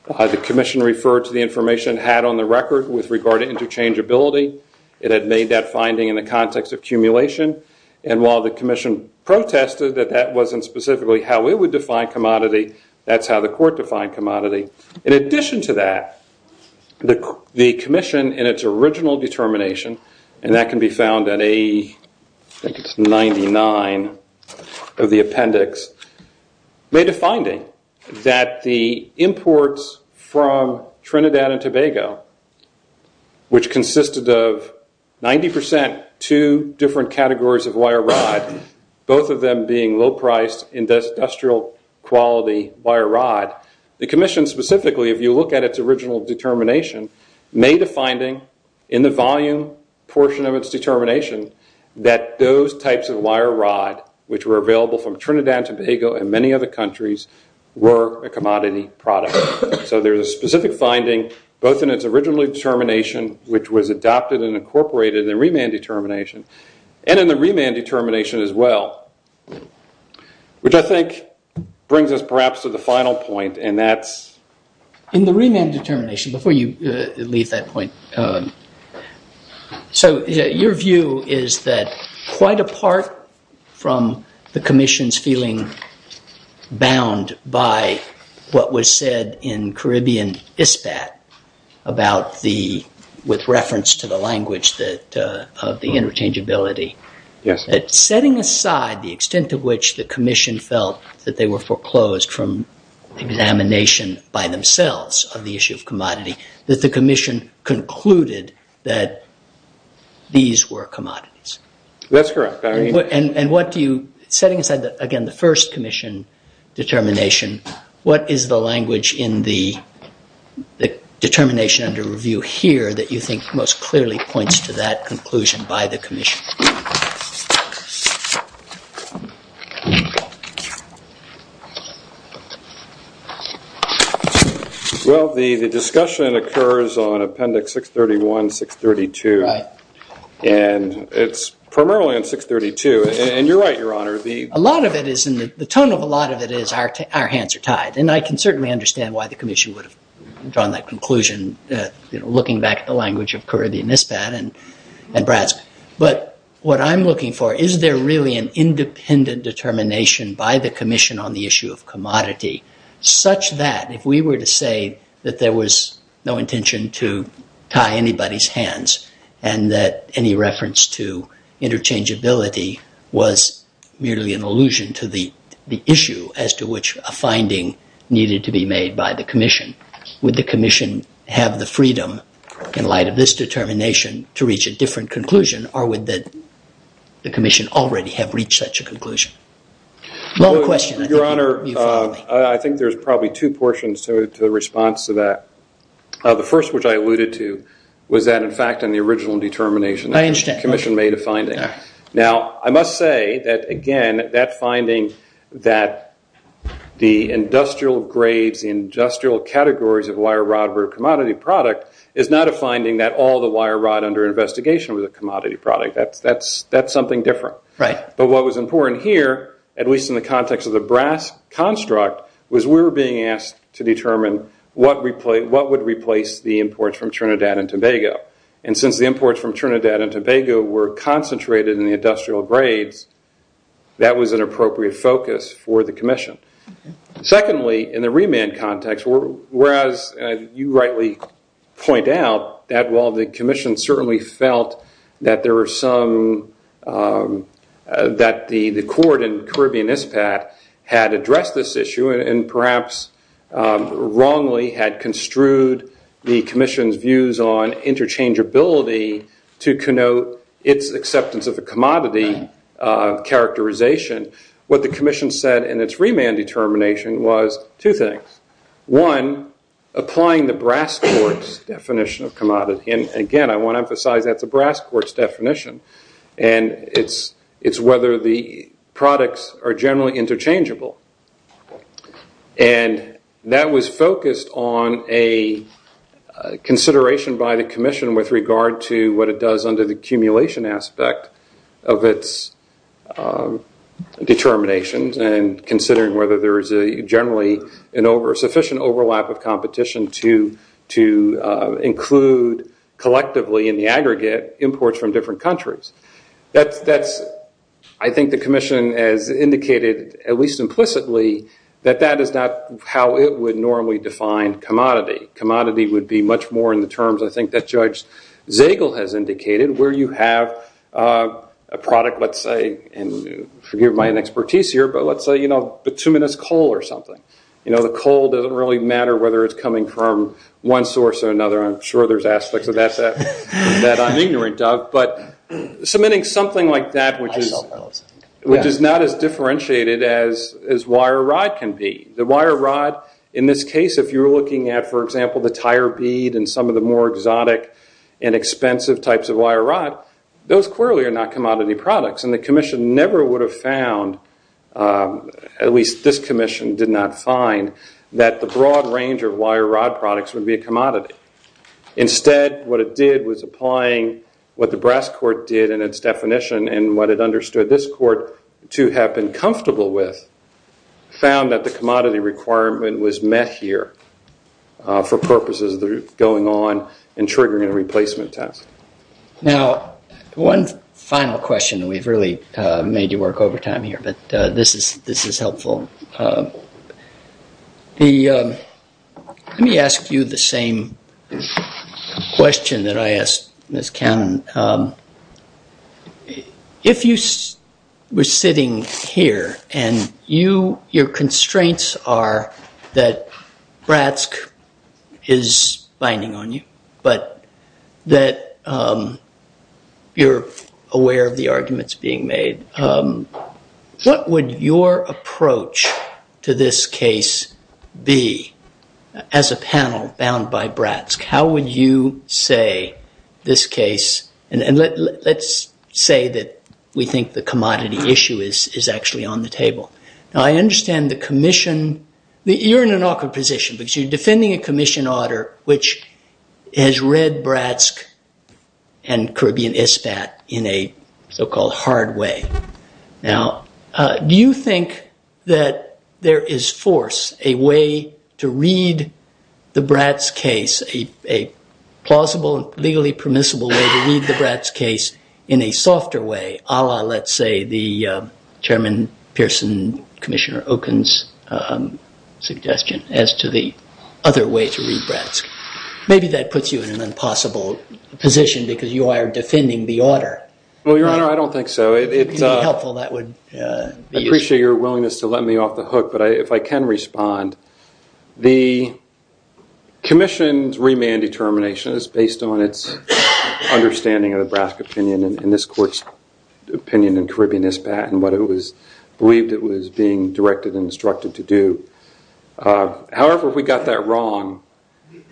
The commission referred to the information it had on the record with regard to interchangeability. It had made that finding in the context of accumulation, and while the commission protested that that wasn't specifically how it would define commodity, that's how the court defined commodity. In addition to that, the commission, in its original determination, and that can be found in A99 of the appendix, made a finding that the imports from Trinidad and Tobago, which consisted of 90% two different categories of wire rod, both of them being low-priced industrial-quality wire rod, the commission specifically, if you look at its original determination, made a finding in the volume portion of its determination that those types of wire rod, which were available from Trinidad and Tobago and many other countries, were a commodity product. So there's a specific finding, both in its original determination, which was adopted and incorporated in remand determination, and in the remand determination as well, which I think brings us perhaps to the final point, and that's... In the remand determination, before you leave that point, so your view is that quite apart from the commission's feeling bound by what was said in Caribbean ISPAT about the... with reference to the language of the interchangeability. Yes. Setting aside the extent to which the commission felt that they were foreclosed from examination by themselves on the issue of commodity, that the commission concluded that these were commodities. That's correct. And what do you... Setting aside, again, the first commission determination, what is the language in the determination under review here that you think most clearly points to that conclusion by the commission? Well, the discussion occurs on appendix 631, 632. Right. And it's primarily on 632. And you're right, Your Honour, the... A lot of it is... The tone of a lot of it is our hands are tied. And I can certainly understand why the commission would have drawn that conclusion, looking back at the language of Caribbean ISPAT and BRADS. But what I'm looking for, is there really an independent determination by the commission on the issue of commodity such that, if we were to say that there was no intention to tie anybody's hands and that any reference to interchangeability was merely an allusion to the issue as to which a finding needed to be made by the commission, would the commission have the freedom, in light of this determination, to reach a different conclusion, or would the commission already have reached such a conclusion? No question. Your Honour, I think there's probably two portions to the response to that. The first, which I alluded to, was that, in fact, in the original determination... I understand. ...the commission made a finding. Now, I must say that, again, that finding that the industrial grades, the industrial categories of wire rod were a commodity product, is not a finding that all the wire rod under investigation was a commodity product. That's something different. But what was important here, at least in the context of the BRADS construct, was we were being asked to determine what would replace the imports from Trinidad and Tobago. And since the imports from Trinidad and Tobago were concentrated in the industrial grades, that was an appropriate focus for the commission. Secondly, in the remand context, whereas you rightly point out that while the commission certainly felt that there were some... that had addressed this issue and perhaps wrongly had construed the commission's views on interchangeability to connote its acceptance of the commodity characterization, what the commission said in its remand determination was two things. One, applying the BRASS courts definition of commodity. And, again, I want to emphasize that's a BRASS courts definition. And it's whether the products are generally interchangeable. And that was focused on a consideration by the commission with regard to what it does under the accumulation aspect of its determinations and considering whether there is generally to include collectively in the aggregate imports from different countries. I think the commission has indicated, at least implicitly, that that is not how it would normally define commodity. Commodity would be much more in the terms, I think, that Judge Zagel has indicated, where you have a product, let's say, and forgive my inexpertise here, but let's say, you know, bituminous coal or something. You know, the coal doesn't really matter whether it's coming from one source or another. I'm sure there's aspects of that that I'm ignorant of. But submitting something like that, which is not as differentiated as wire rod can be. The wire rod, in this case, if you're looking at, for example, the tire bead and some of the more exotic and expensive types of wire rod, those clearly are not commodity products. And the commission never would have found, at least this commission did not find, that the broad range of wire rod products would be a commodity. Instead, what it did was applying what the brass court did in its definition and what it understood this court to have been comfortable with, found that the commodity requirement was met here for purposes of going on and triggering a replacement test. Now, one final question. We've really made you work overtime here, but this is helpful. Let me ask you the same question that I asked Ms. Cannon. If you were sitting here and your constraints are that BRASC is binding on you, but that you're aware of the arguments being made, what would your approach to this case be as a panel bound by BRASC? How would you say this case... And let's say that we think the commodity issue is actually on the table. Now, I understand the commission... You're in an awkward position because you're defending a commission order which has read BRASC and Caribbean ISPAT in a so-called hard way. Now, do you think that there is force, a way to read the BRASC case, a plausible, legally permissible way to read the BRASC case in a softer way, a la, let's say, the Chairman Pearson, Commissioner Okun's suggestion as to the other way to read BRASC? Maybe that puts you in an impossible position because you are defending the order. Well, Your Honor, I don't think so. I appreciate your willingness to let me off the hook, but if I can respond, the commission's remand determination is based on its understanding of the BRASC opinion and this court's opinion in Caribbean ISPAT and what it was believed it was being directed and instructed to do. However, if we got that wrong, we'd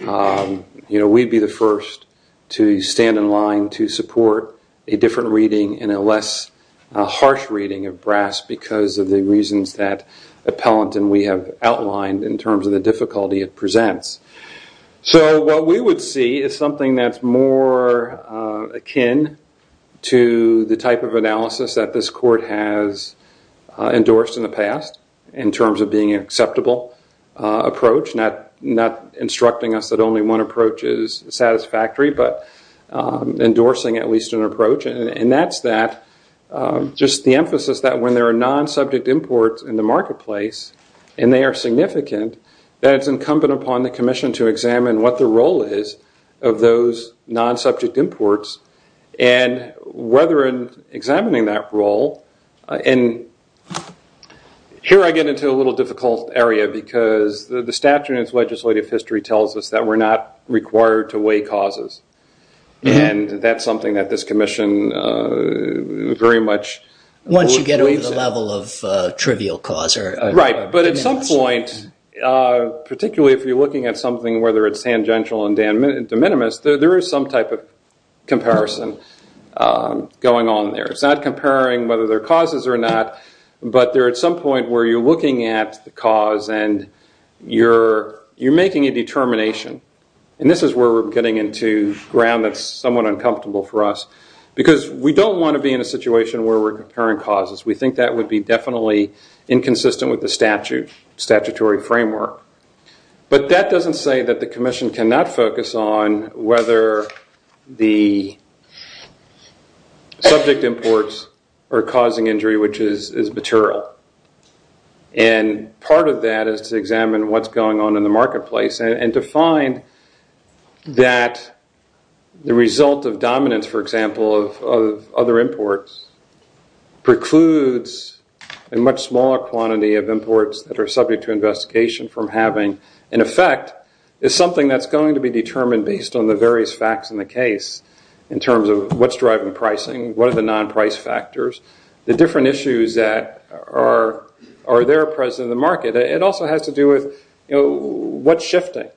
be the first to stand in line to support a different reading and a less harsh reading of BRASC because of the reasons that Appellant and we have outlined in terms of the difficulty it presents. So what we would see is something that's more akin to the type of analysis that this court has endorsed in the past in terms of being an acceptable approach, not instructing us that only one approach is satisfactory, but endorsing at least an approach. And that's just the emphasis that when there are non-subject imports in the marketplace and they are significant, that it's incumbent upon the commission to examine what the role is of those non-subject imports and whether in examining that role. And here I get into a little difficult area because the statute in its legislative history tells us that we're not required to weigh causes. And that's something that this commission very much... Once you get over the level of trivial cause. Right, but at some point, particularly if you're looking at something, whether it's tangential and de minimis, there is some type of comparison going on there. It's not comparing whether they're causes or not, but they're at some point where you're looking at the cause and you're making a determination. And this is where we're getting into ground that's somewhat uncomfortable for us because we don't want to be in a situation where we're comparing causes. We think that would be definitely inconsistent with the statutory framework. But that doesn't say that the commission cannot focus on whether the subject imports are causing injury, which is material. And part of that is to examine what's going on in the marketplace and to find that the result of dominance, for example, of other imports precludes a much smaller quantity of imports that are subject to investigation from having an effect. It's something that's going to be determined based on the various facts in the case in terms of what's driving pricing, what are the non-price factors, the different issues that are there present in the market. It also has to do with what's shifting.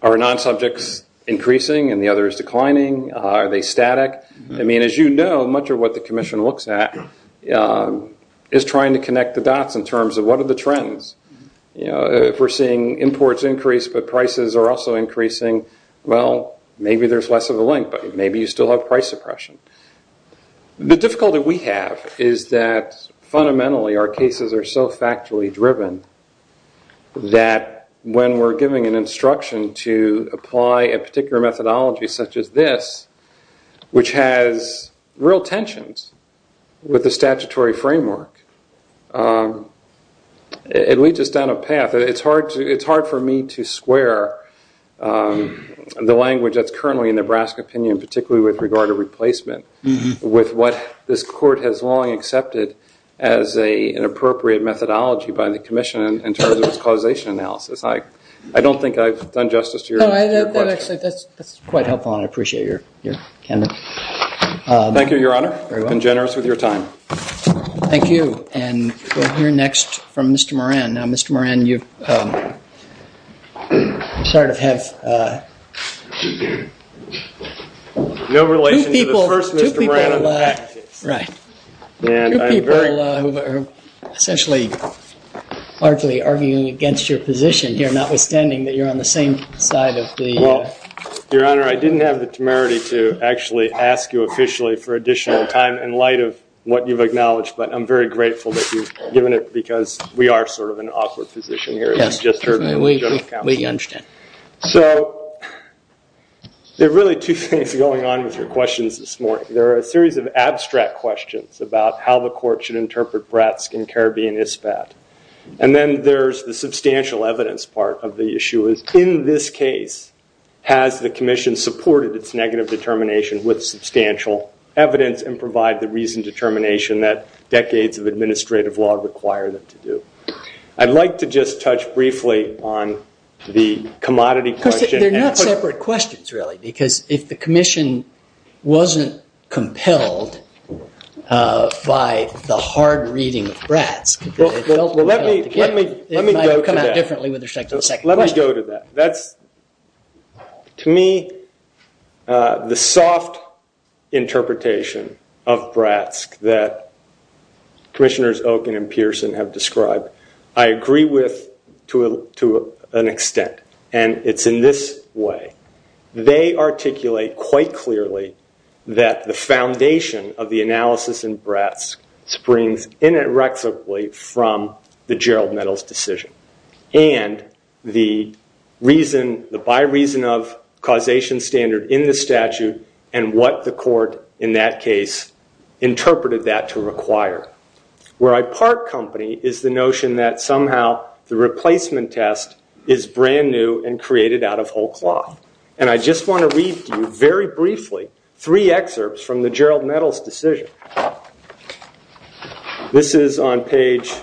Are non-subjects increasing and the others declining? Are they static? I mean, as you know, much of what the commission looks at is trying to connect the dots in terms of what are the trends. If we're seeing imports increase but prices are also increasing, well, maybe there's less of a link, but maybe you still have price suppression. The difficulty we have is that fundamentally our cases are so factually driven that when we're giving an instruction to apply a particular methodology such as this, which has real tensions with the statutory framework, it leads us down a path. It's hard for me to square the language that's currently in Nebraska opinion, particularly with regard to replacement, with what this court has long accepted as an appropriate methodology by the commission in terms of its causation analysis. I don't think I've done justice to your question. That's quite helpful. I appreciate your candor. Thank you, Your Honor. I've been generous with your time. Thank you. We'll hear next from Mr. Moran. Now, Mr. Moran, you sort of have... No relation to the first Mr. Brown. Right. Two people who are essentially, largely arguing against your position here, notwithstanding that you're on the same side of the... Well, Your Honor, I didn't have the temerity to actually ask you officially for additional time in light of what you've acknowledged, but I'm very grateful that you've given it because we are sort of an awkward position here. Yes. We understand. So, there are really two things going on with your questions this morning. There are a series of abstract questions about how the court should interpret Bretsk and Caribbean ISFAP. And then there's the substantial evidence part of the issue. its negative determination with substantial evidence and provide the reasoned determination that decades of administrative law require them to do. I'd like to just touch briefly on the commodity question... They're not separate questions, really, because if the commission wasn't compelled by the hard reading of Bretsk... Let me go to that. It might come out differently with respect to the second question. Let me go to that. That's, to me, the soft interpretation of Bretsk that commissioners Okun and Pearson have described. I agree with, to an extent, and it's in this way. They articulate quite clearly that the foundation of the analysis in Bretsk springs inextricably from the Gerald Meadows decision and the by reason of causation standard in the statute and what the court, in that case, interpreted that to require. Where I part company is the notion that somehow the replacement test is brand new and created out of whole cloth. And I just want to read to you very briefly three excerpts from the Gerald Meadows decision. This is on page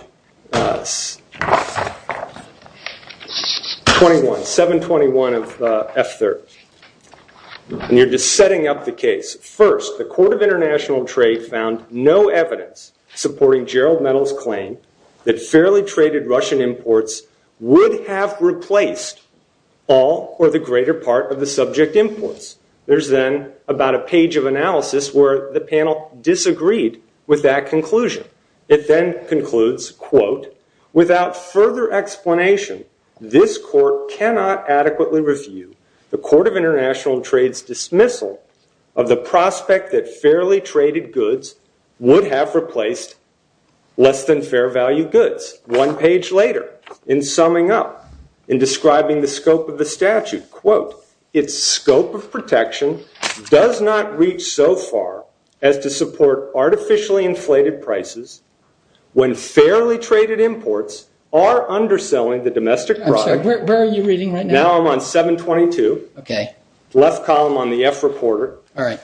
721 of F-30. And you're just setting up the case. First, the Court of International Trade found no evidence supporting Gerald Meadows' claim that fairly traded Russian imports would have replaced all or the greater part of the subject influence. There's then about a page of analysis where the panel disagreed with that conclusion. It then concludes, quote, Without further explanation, this court cannot adequately review the Court of International Trade's dismissal of the prospect that fairly traded goods would have replaced less than fair value goods. One page later, in summing up, in describing the scope of the statute, quote, Its scope of protection does not reach so far as to support artificially inflated prices when fairly traded imports are underselling the domestic product. Where are you reading right now? Now I'm on 722. Okay. Left column on the F Reporter. All right.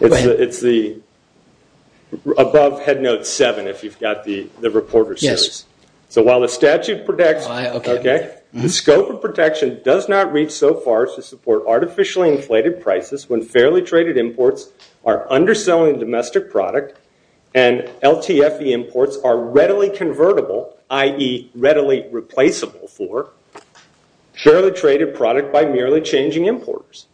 Go ahead. It's above Head Note 7 if you've got the Reporter series. Yes. So while the statute protects... Okay. The scope of protection does not reach so far as to support artificially inflated prices when fairly traded imports are underselling the domestic product and LTFE imports are readily convertible, i.e., readily replaceable for, fairly traded product by merely changing importers.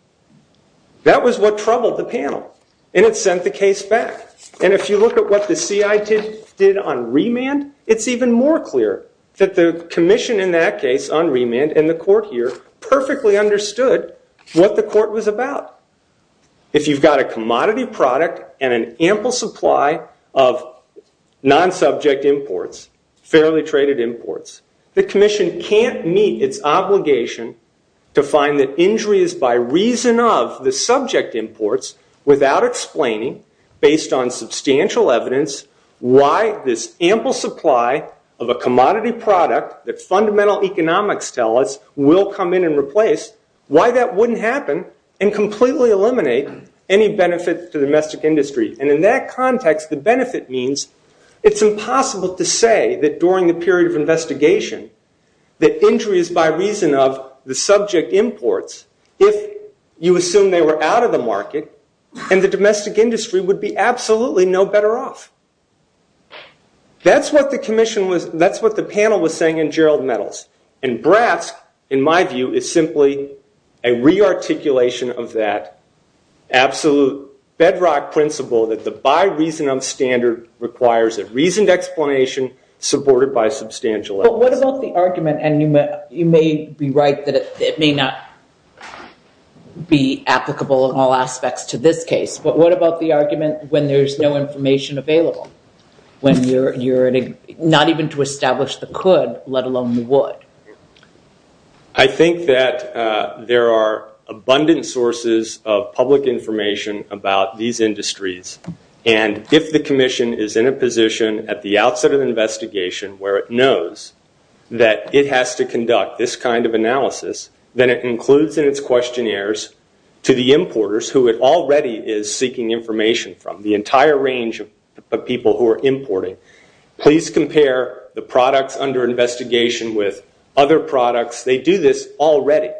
That was what troubled the panel, and it sent the case back. And if you look at what the CIT did on remand, it's even more clear that the commission in that case on remand and the court here perfectly understood what the court was about. If you've got a commodity product and an ample supply of non-subject imports, fairly traded imports, the commission can't meet its obligation to find that injuries by reason of the subject imports without explaining, based on substantial evidence, why this ample supply of a commodity product that fundamental economics tell us will come in and replace, why that wouldn't happen and completely eliminate any benefits to the domestic industry. And in that context, the benefit means it's impossible to say that during the period of investigation that injuries by reason of the subject imports, if you assume they were out of the market and the domestic industry would be absolutely no better off. That's what the commission was, that's what the panel was saying in Gerald Nettles. And BRAS, in my view, it's simply a re-articulation of that absolute bedrock principle that the by reason of standard requires a reasoned explanation supported by substantial evidence. But what about the argument, and you may be right that it may not be applicable in all aspects to this case, but what about the argument when there's no information available? Not even to establish the could, let alone the would. I think that there are abundant sources of public information about these industries. And if the commission is in a position at the outset of the investigation where it knows that it has to conduct this kind of analysis, then it includes in its questionnaires to the importers who it already is seeking information from, the entire range of people who are importing, please compare the products under investigation with other products. They do this already.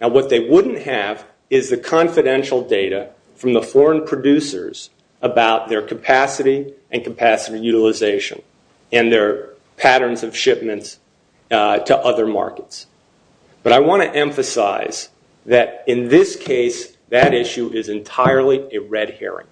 Now what they wouldn't have is the confidential data from the foreign producers about their capacity and capacity utilization and their patterns of shipment to other markets. But I want to emphasize that in this case, that issue is entirely a red herring.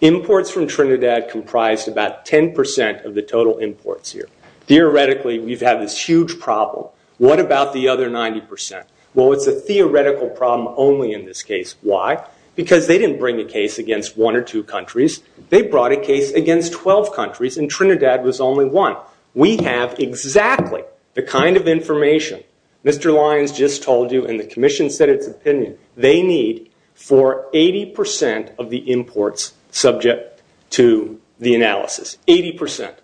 Imports from Trinidad comprise about 10% of the total imports here. Theoretically, we've had this huge problem. What about the other 90%? Well, it's a theoretical problem only in this case. Why? Because they didn't bring the case against one or two countries. They brought a case against 12 countries, and Trinidad was only one. We have exactly the kind of information. Mr. Lyons just told you in the commission's opinion that they need for 80% of the imports subject to the analysis, 80%.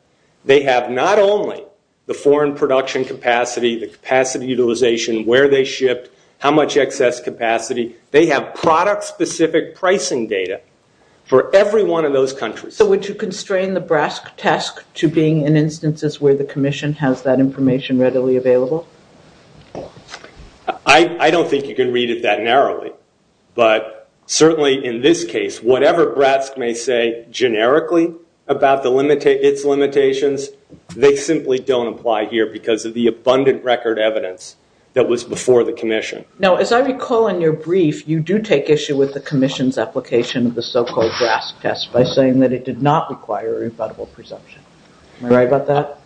They have not only the foreign production capacity, the capacity utilization, where they ship, how much excess capacity. They have product-specific pricing data for every one of those countries. So would you constrain the BRASC test to being in instances where the commission has that information readily available? I don't think you can read it that narrowly, but certainly in this case, whatever BRASC may say generically about its limitations, they simply don't apply here because of the abundant record evidence that was before the commission. Now, as I recall in your brief, you do take issue with the commission's application of the so-called BRASC test by saying that it did not require a rebuttable presumption. Am I right about that?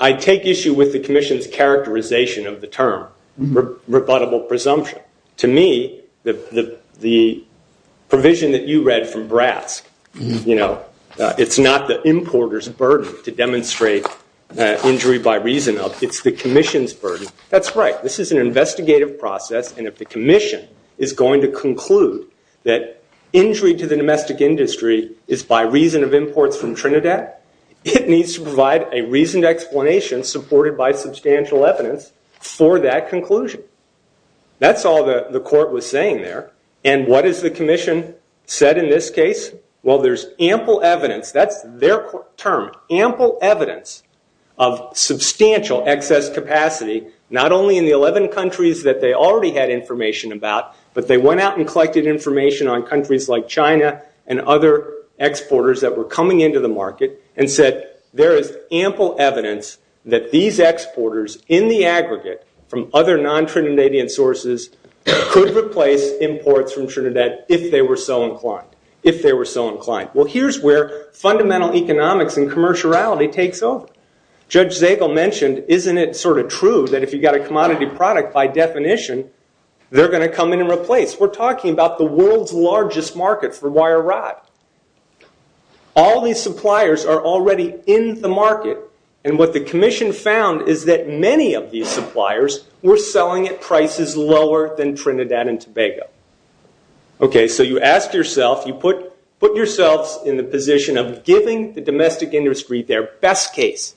I take issue with the commission's characterization of the term, rebuttable presumption. To me, the provision that you read from BRASC, it's not the importer's burden to demonstrate injury by reason. It's the commission's burden. That's right. This is an investigative process, and if the commission is going to conclude that injury to the domestic industry is by reason of imports from Trinidad, it needs to provide a reasoned explanation supported by substantial evidence for that conclusion. That's all the court was saying there, and what has the commission said in this case? Well, there's ample evidence. That's their term, ample evidence of substantial excess capacity, not only in the 11 countries that they already had information about, but they went out and collected information on countries like China and other exporters that were coming into the market and said there is ample evidence that these exporters in the aggregate from other non-Trinidadian sources could replace imports from Trinidad if they were so inclined, if they were so inclined. Well, here's where fundamental economics and commerciality takes over. Judge Zagel mentioned, isn't it sort of true that if you've got a commodity product, by definition, they're going to come in and replace? We're talking about the world's largest market for wire rod. All these suppliers are already in the market, and what the commission found is that many of these suppliers were selling at prices lower than Trinidad and Tobago. Okay, so you ask yourself, you put yourself in the position of giving the domestic industry their best case.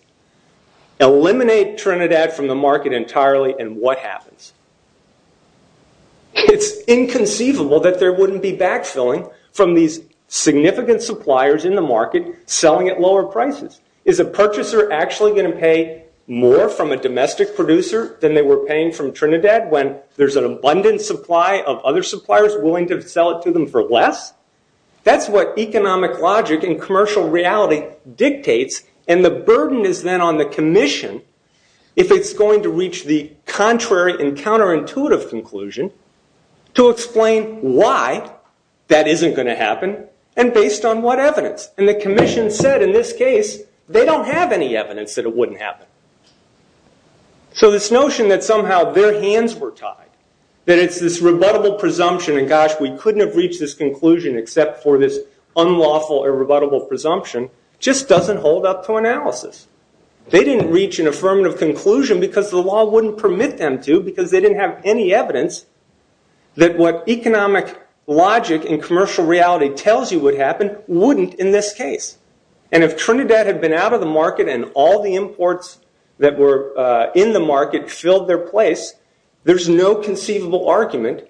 Eliminate Trinidad from the market entirely, and what happens? It's inconceivable that there wouldn't be backfilling from these significant suppliers in the market selling at lower prices. Is a purchaser actually going to pay more from a domestic producer than they were paying from Trinidad when there's an abundant supply of other suppliers willing to sell it to them for less? That's what economic logic and commercial reality dictates, and the burden is then on the commission if it's going to reach the contrary and counterintuitive conclusion to explain why that isn't going to happen and based on what evidence. And the commission said in this case they don't have any evidence that it wouldn't happen. So this notion that somehow their hands were tied, that it's this rebuttable presumption, and gosh, we couldn't have reached this conclusion except for this unlawful or rebuttable presumption just doesn't hold up to analysis. They didn't reach an affirmative conclusion because the law wouldn't permit them to because they didn't have any evidence that what economic logic and commercial reality tells you would happen wouldn't in this case. And if Trinidad had been out of the market and all the imports that were in the market filled their place, there's no conceivable argument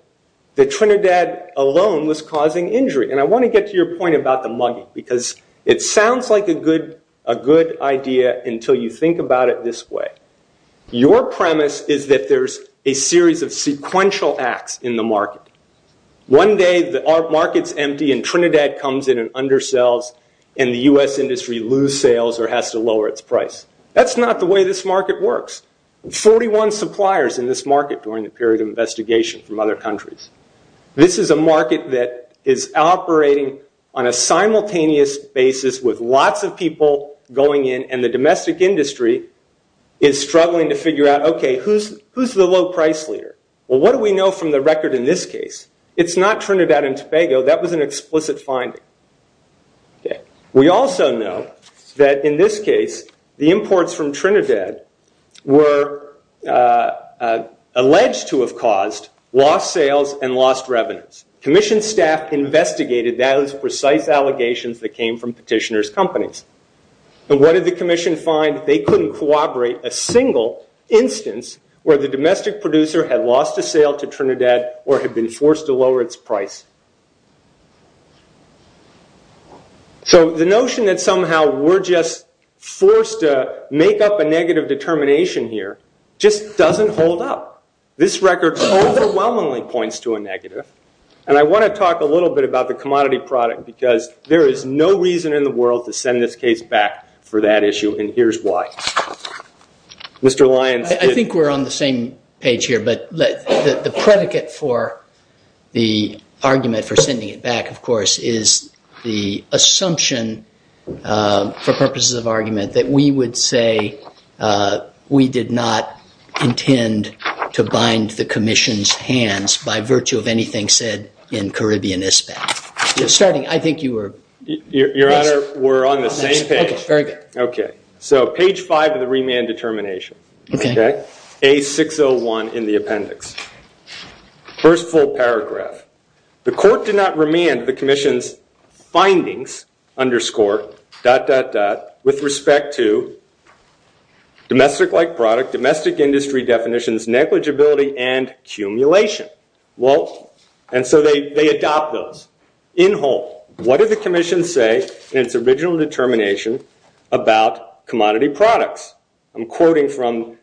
that Trinidad alone was causing injury. And I want to get to your point about the mugging because it sounds like a good idea until you think about it this way. of sequential acts in the market. One day the market's empty and Trinidad comes in and undersells and the U.S. industry loses sales or has to lower its price. That's not the way this market works. 41 suppliers in this market during the period of investigation from other countries. This is a market that is operating on a simultaneous basis with lots of people going in and the domestic industry is struggling to figure out, okay, who's the low price leader? Well, what do we know from the record in this case? It's not Trinidad and Spago. That was an explicit finding. We also know that in this case the imports from Trinidad were alleged to have caused lost sales and lost revenues. Commission staff investigated those precise allegations that came from petitioners' companies. But what did the commission find? a single instance where the domestic producer had lost a sale to Trinidad or had been forced to lower its price. So the notion that somehow we're just forced to make up a negative determination here just doesn't hold up. This record overwhelmingly points to a negative. And I want to talk a little bit about the commodity product because there is no reason in the world to send this case back for that issue and here's why. Mr. Lyon. I think we're on the same page here but the predicate for the argument for sending it back, of course, is the assumption for purposes of argument that we would say we did not intend to bind the commission's hands by virtue of anything said in Caribbean Ispan. I think you were... Your Honor, we're on the same page. Okay. So page 5 of the remand determination. Okay. A601 in the appendix. First full paragraph. The court did not remand the commission's findings, underscore, dot, dot, dot, with respect to domestic-like product, domestic industry definitions, negligibility, and accumulation. Well, and so they adopt those. In whole, what did the commission say in its original determination about commodity products? I'm quoting from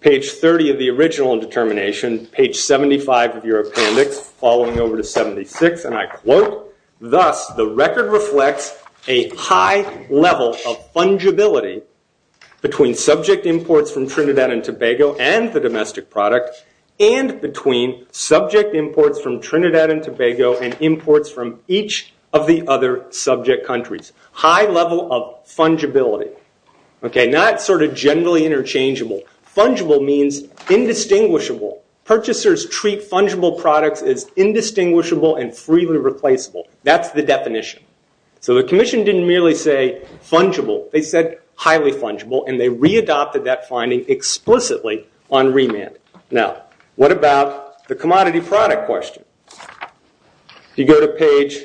page 30 of the original determination, page 75 of your appendix, following over to 76, and I quote, thus the record reflects a high level of fungibility between subject imports from Trinidad and Tobago and the domestic product and between subject imports from Trinidad and Tobago and imports from each of the other subject countries. High level of fungibility. Okay, not sort of generally interchangeable. Fungible means indistinguishable. Purchasers treat fungible products as indistinguishable and freely replaceable. That's the definition. So the commission didn't merely say fungible. They said highly fungible, and they readopted that finding explicitly on remand. Now, what about the commodity product question? You go to page...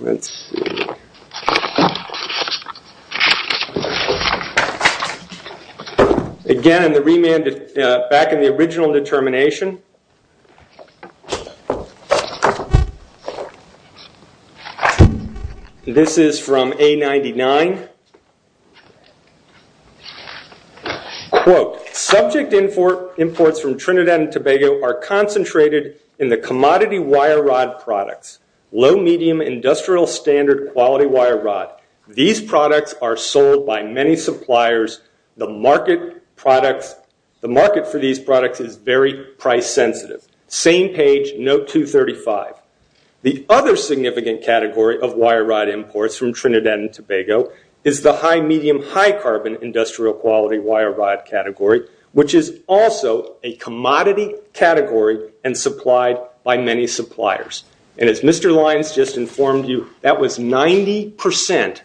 Let's see. Okay. Again, in the remand, back in the original determination. This is from A99. Quote, subject imports from Trinidad and Tobago are concentrated in the commodity wire rod products. Low-medium industrial standard quality wire rod. These products are sold by many suppliers. The market for these products is very price sensitive. Same page, note 235. The other significant category of wire rod imports from Trinidad and Tobago is the high-medium, high-carbon industrial quality wire rod category, which is also a commodity category and supplied by many suppliers. And as Mr. Lyons just informed you, that was 90%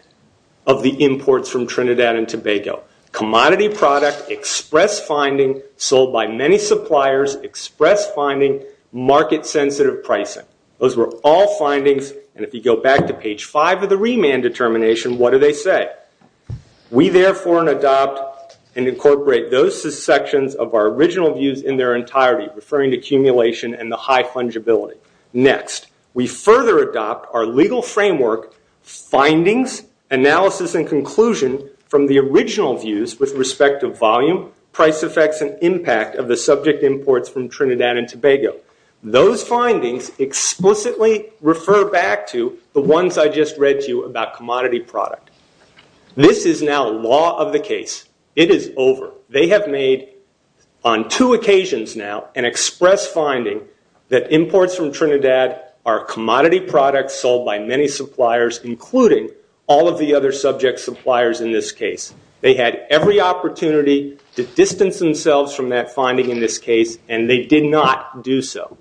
of the imports from Trinidad and Tobago. Commodity product, express finding, sold by many suppliers, express finding, market-sensitive pricing. Those were all findings, and if you go back to page 5 of the remand determination, what do they say? We therefore adopt and incorporate those sections of our original views in their entirety, referring to accumulation and the high fungibility. Next, we further adopt our legal framework findings, analysis, and conclusion from the original views with respect to volume, price effects, and impact of the subject imports from Trinidad and Tobago. Those findings explicitly refer back to the ones I just read to you about commodity product. This is now law of the case. It is over. They have made, on two occasions now, an express finding that imports from Trinidad are commodity products sold by many suppliers, including all of the other subject suppliers in this case. They had every opportunity to distance themselves from that finding in this case, and they did not do so.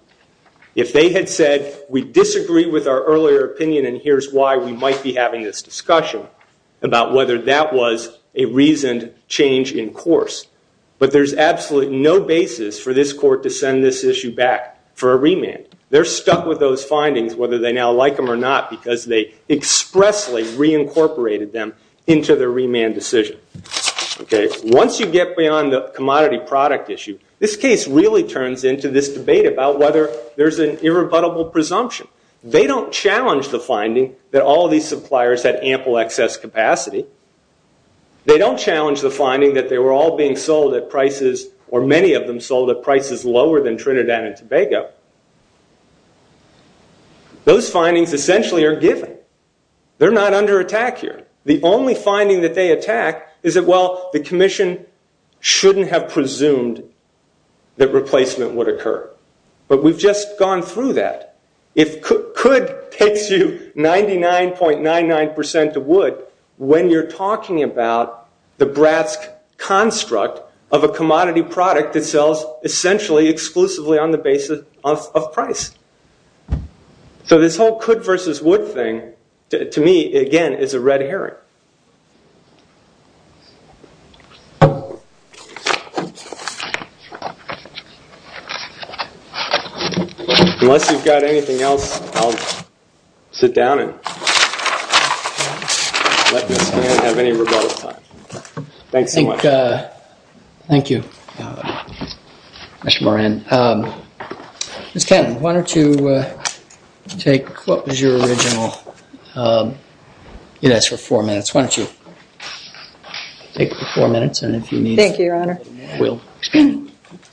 If they had said, we disagree with our earlier opinion, and here's why we might be having this discussion about whether that was a reasoned change in course, but there's absolutely no basis for this court to send this issue back for a remand. They're stuck with those findings, whether they now like them or not, because they expressly reincorporated them into their remand decision. Once you get beyond the commodity product issue, this case really turns into this debate about whether there's an irrebuttable presumption. They don't challenge the finding that all of these suppliers had ample excess capacity. They don't challenge the finding that they were all being sold at prices, or many of them were sold at prices lower than Trinidad and Tobago. Those findings essentially are given. They're not under attack here. The only finding that they attack is that, well, the commission shouldn't have presumed that replacement would occur, but we've just gone through that. It could take you 99.99% of wood when you're talking about the brass construct of a commodity product that sells essentially, exclusively on the basis of price. So this whole could versus would thing, to me, again, is a red herring. Unless you've got anything else, and let this man have any rebuttal time. Thank you. Thank you, Mr. Moran. Ms. Kenton, why don't you take what was your original units for four minutes. Why don't you take four minutes, and if you need... Thank you, Your Honor.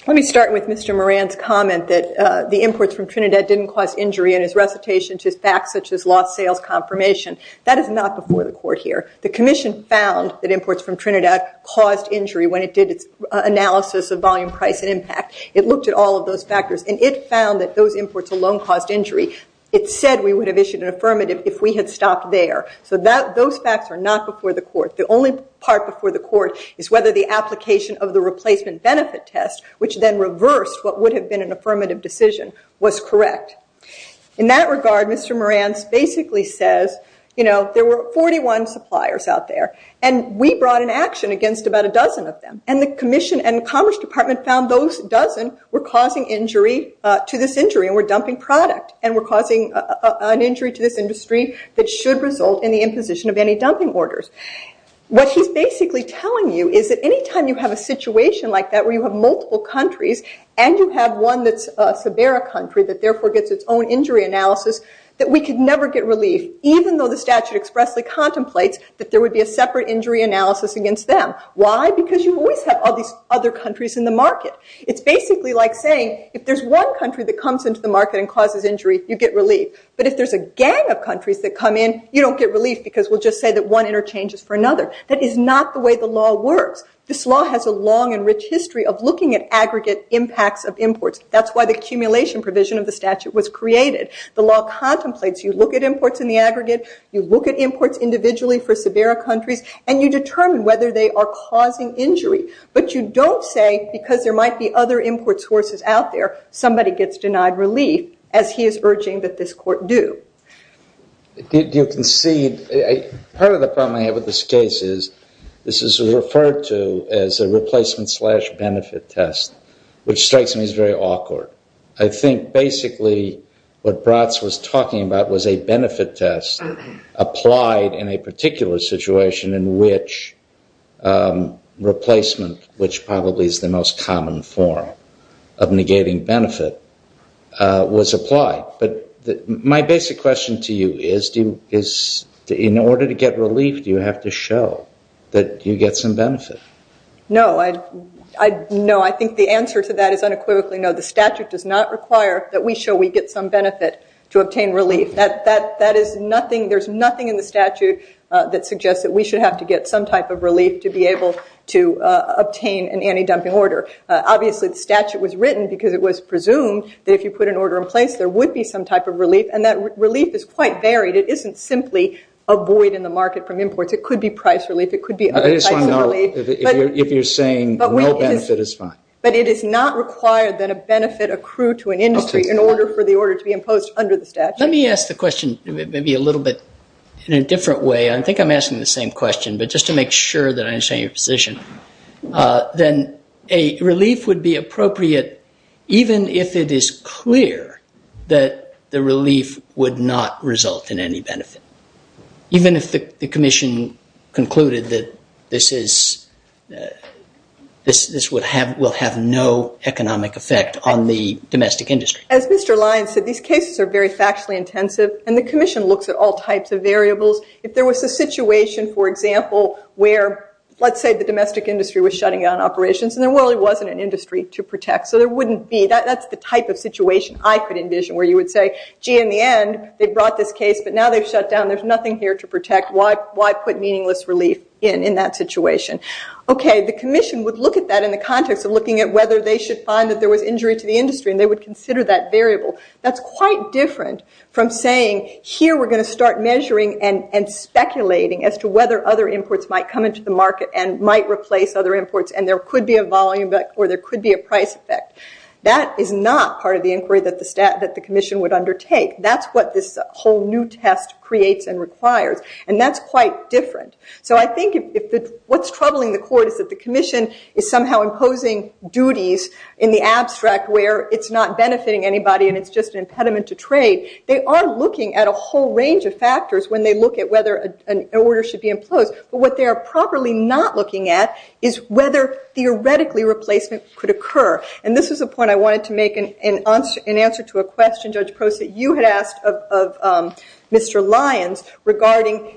Let me start with Mr. Moran's comment that the imports from Trinidad didn't cause injury to facts such as lost sales confirmation. That is not before the court here. The commission found that imports from Trinidad caused injury when it did analysis of volume, price, and impact. It looked at all of those factors, and it found that those imports alone caused injury. It said we would have issued an affirmative if we had stopped there. So those facts are not before the court. The only part before the court is whether the application of the replacement benefit test, which then reversed what would have been an affirmative decision, was correct. In that regard, Mr. Moran basically says, you know, there were 41 suppliers out there, and we brought an action against about a dozen of them. And the commission and the Commerce Department found those dozen were causing injury to this industry, and were dumping product, and were causing an injury to this industry that should result in the imposition of any dumping orders. What he's basically telling you is that any time you have a situation like that where you have multiple countries, and you have one that's a severe country that therefore gets its own injury analysis, that we could never get relief, even though the statute expressly contemplates that there would be a separate injury analysis against them. Why? Because you always have other countries in the market. It's basically like saying, if there's one country that comes into the market and causes injury, you get relief. But if there's a gang of countries that come in, you don't get relief because we'll just say that one interchanges for another. That is not the way the law works. This law has a long and rich history of looking at aggregate impacts of imports. That's why the accumulation provision of the statute was created. The law contemplates that if you look at imports in the aggregate, you look at imports individually for severe countries, and you determine whether they are causing injury, but you don't say because there might be other import sources out there, somebody gets denied relief, as he is urging that this court do. You can see, part of the problem is this is referred to as a replacement slash benefit test, which strikes me as very awkward. I think, basically, what Bratz was talking about was a replacement slash benefit test applied in a particular situation in which replacement, which probably is the most common form of negating benefit, was applied. But my basic question to you is, in order to get relief, do you have to show that you get some benefit? No. I think the answer to that is unequivocally no. The statute does not require that we show that we get some benefit to obtain relief. There is nothing in the statute that suggests that we should have to get some type of relief to be able to obtain an anti-dumping order. Obviously, the statute was written because it was presumed that if you put an order in place, there would be some type of relief, and that relief is quite varied. It isn't simply avoid in the market from imports. It could be price relief, it could be other types of relief. But it is not required that a benefit accrue to an industry in order for the order to be imposed under the statute. Let me ask the question in a different way. I think the question is whether there is any benefit. Even if the commission concluded that this will have no economic effect on the domestic industry. As Mr. Lyons said, these cases are very factually intensive, and the commission looks at all types of variables. If there was a situation where there is nothing here to protect, why put meaningless relief in that situation? The commission would look at that in the context of whether they should consider that variable. That is quite different from saying we are going to start speculating as to whether other imports might replace other imports. That is not part of the inquiry that the commission would undertake. That is quite different. What is troubling the court is that the commission is imposing duties in the abstract where it is not benefiting anybody. They are looking at a whole range of factors. What they are not looking at is whether theoretically replacement could occur. This is the point I wanted to make in answer to a question that you asked of Mr. Lyons regarding non-attribution. My answer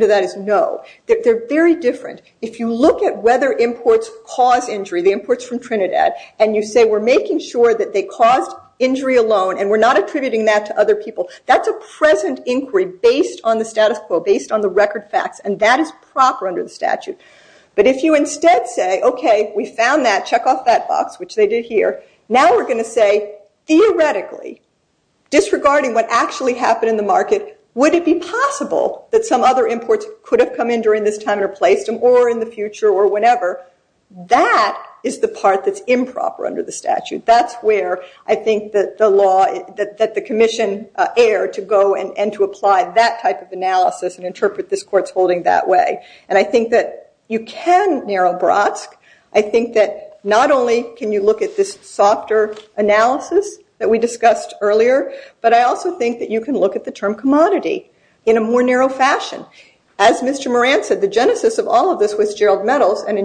to that is no. They are very different. If you look at whether imports cause injury and you say we are making sure they cause injury alone and we are not attributing that to other people, that is a present because that's the best thing you can do. You need to base your inquiry on the record facts and that is proper under the statutes. If you instead say, okay, we found that, check off that box, now we're going to say, theoretically, disregarding what actually happened in the market, would it be possible that some other imports could have come in during this time or place or in the future or whenever, that is the part that think is important. I think that not only can you look at this analysis that we discussed earlier, but you can look at the term commodity in a more narrow fashion. As Mr. Moran said, first of all of this was Gerald Metals and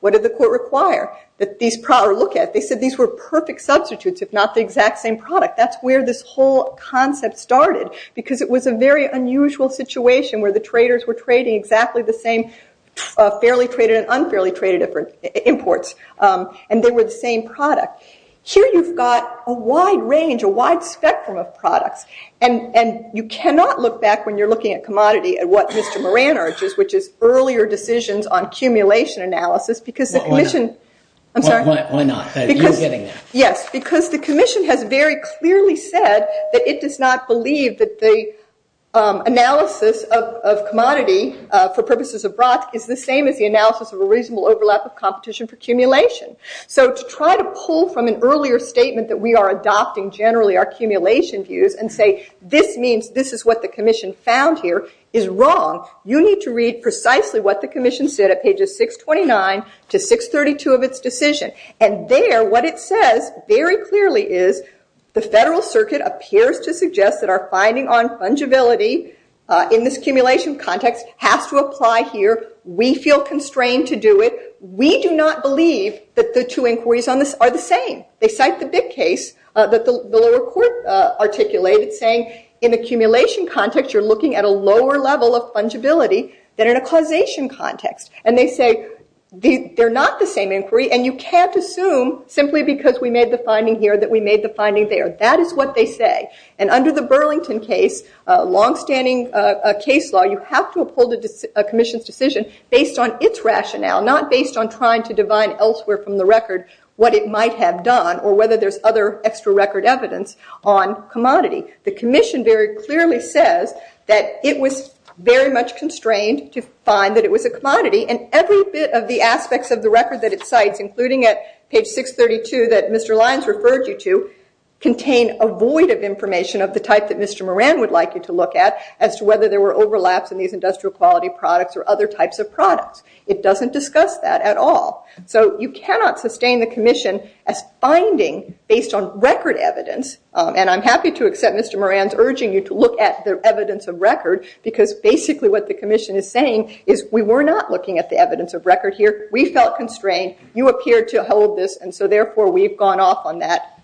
what did the court require? They said these were perfect substitutes if not the exact same product. That's where this whole concept started. It was a very unusual situation where the court had to make some earlier decisions on accumulation analysis. The commission has clearly said it does not believe the analysis of commodity is the same as the analysis of competition for accumulation. To try to pull from an earlier statement and say this is what the commission found here is wrong. You need to read precisely what the commission said. There what it says is the federal circuit appears to suggest that our finding on fungibility in this accumulation context has to apply here. We feel constrained to do it. We do not believe that the two inquiries are the same. They cite the big case that the lower court articulated saying in accumulation context you're looking at a lower level of fungibility than in a causation context. They say they're not the same inquiry. You can't assume simply because we made the finding here that we made the finding there. Under the Burlington case, you have to pull the decision based on its rationale. The commission very clearly says it was constrained to find it was a commodity. Every bit of the aspects of the record contained a void of information of the type that Mr. Moran would like you to look at. It doesn't discuss that at all. You cannot sustain the commission as finding the evidence based on record evidence. I'm happy to accept Mr. Moran's urging you to look at the evidence of record. We were not looking at the evidence of record here. We felt constrained. You appeared to hold this. We've gone off on that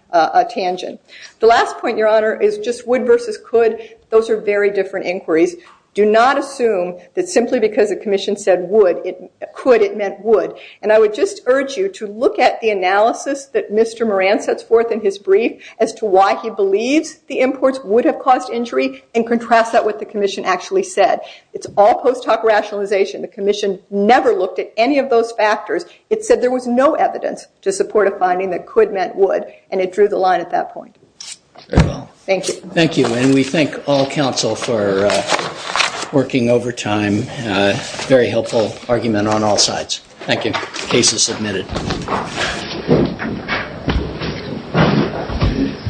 tangent. Wood versus could, those are different inquiries. I would urge you to look at the analysis that Mr. Moran sets forth in his brief. It's all post-talk rationalization. The commission never looked at any of those factors. It said there was no evidence to support finding that could meant wood. It drew the line at that point. Thank you. We thank all counsel for working over time. A very helpful argument on all sides. Thank you. The case is submitted. Thank you.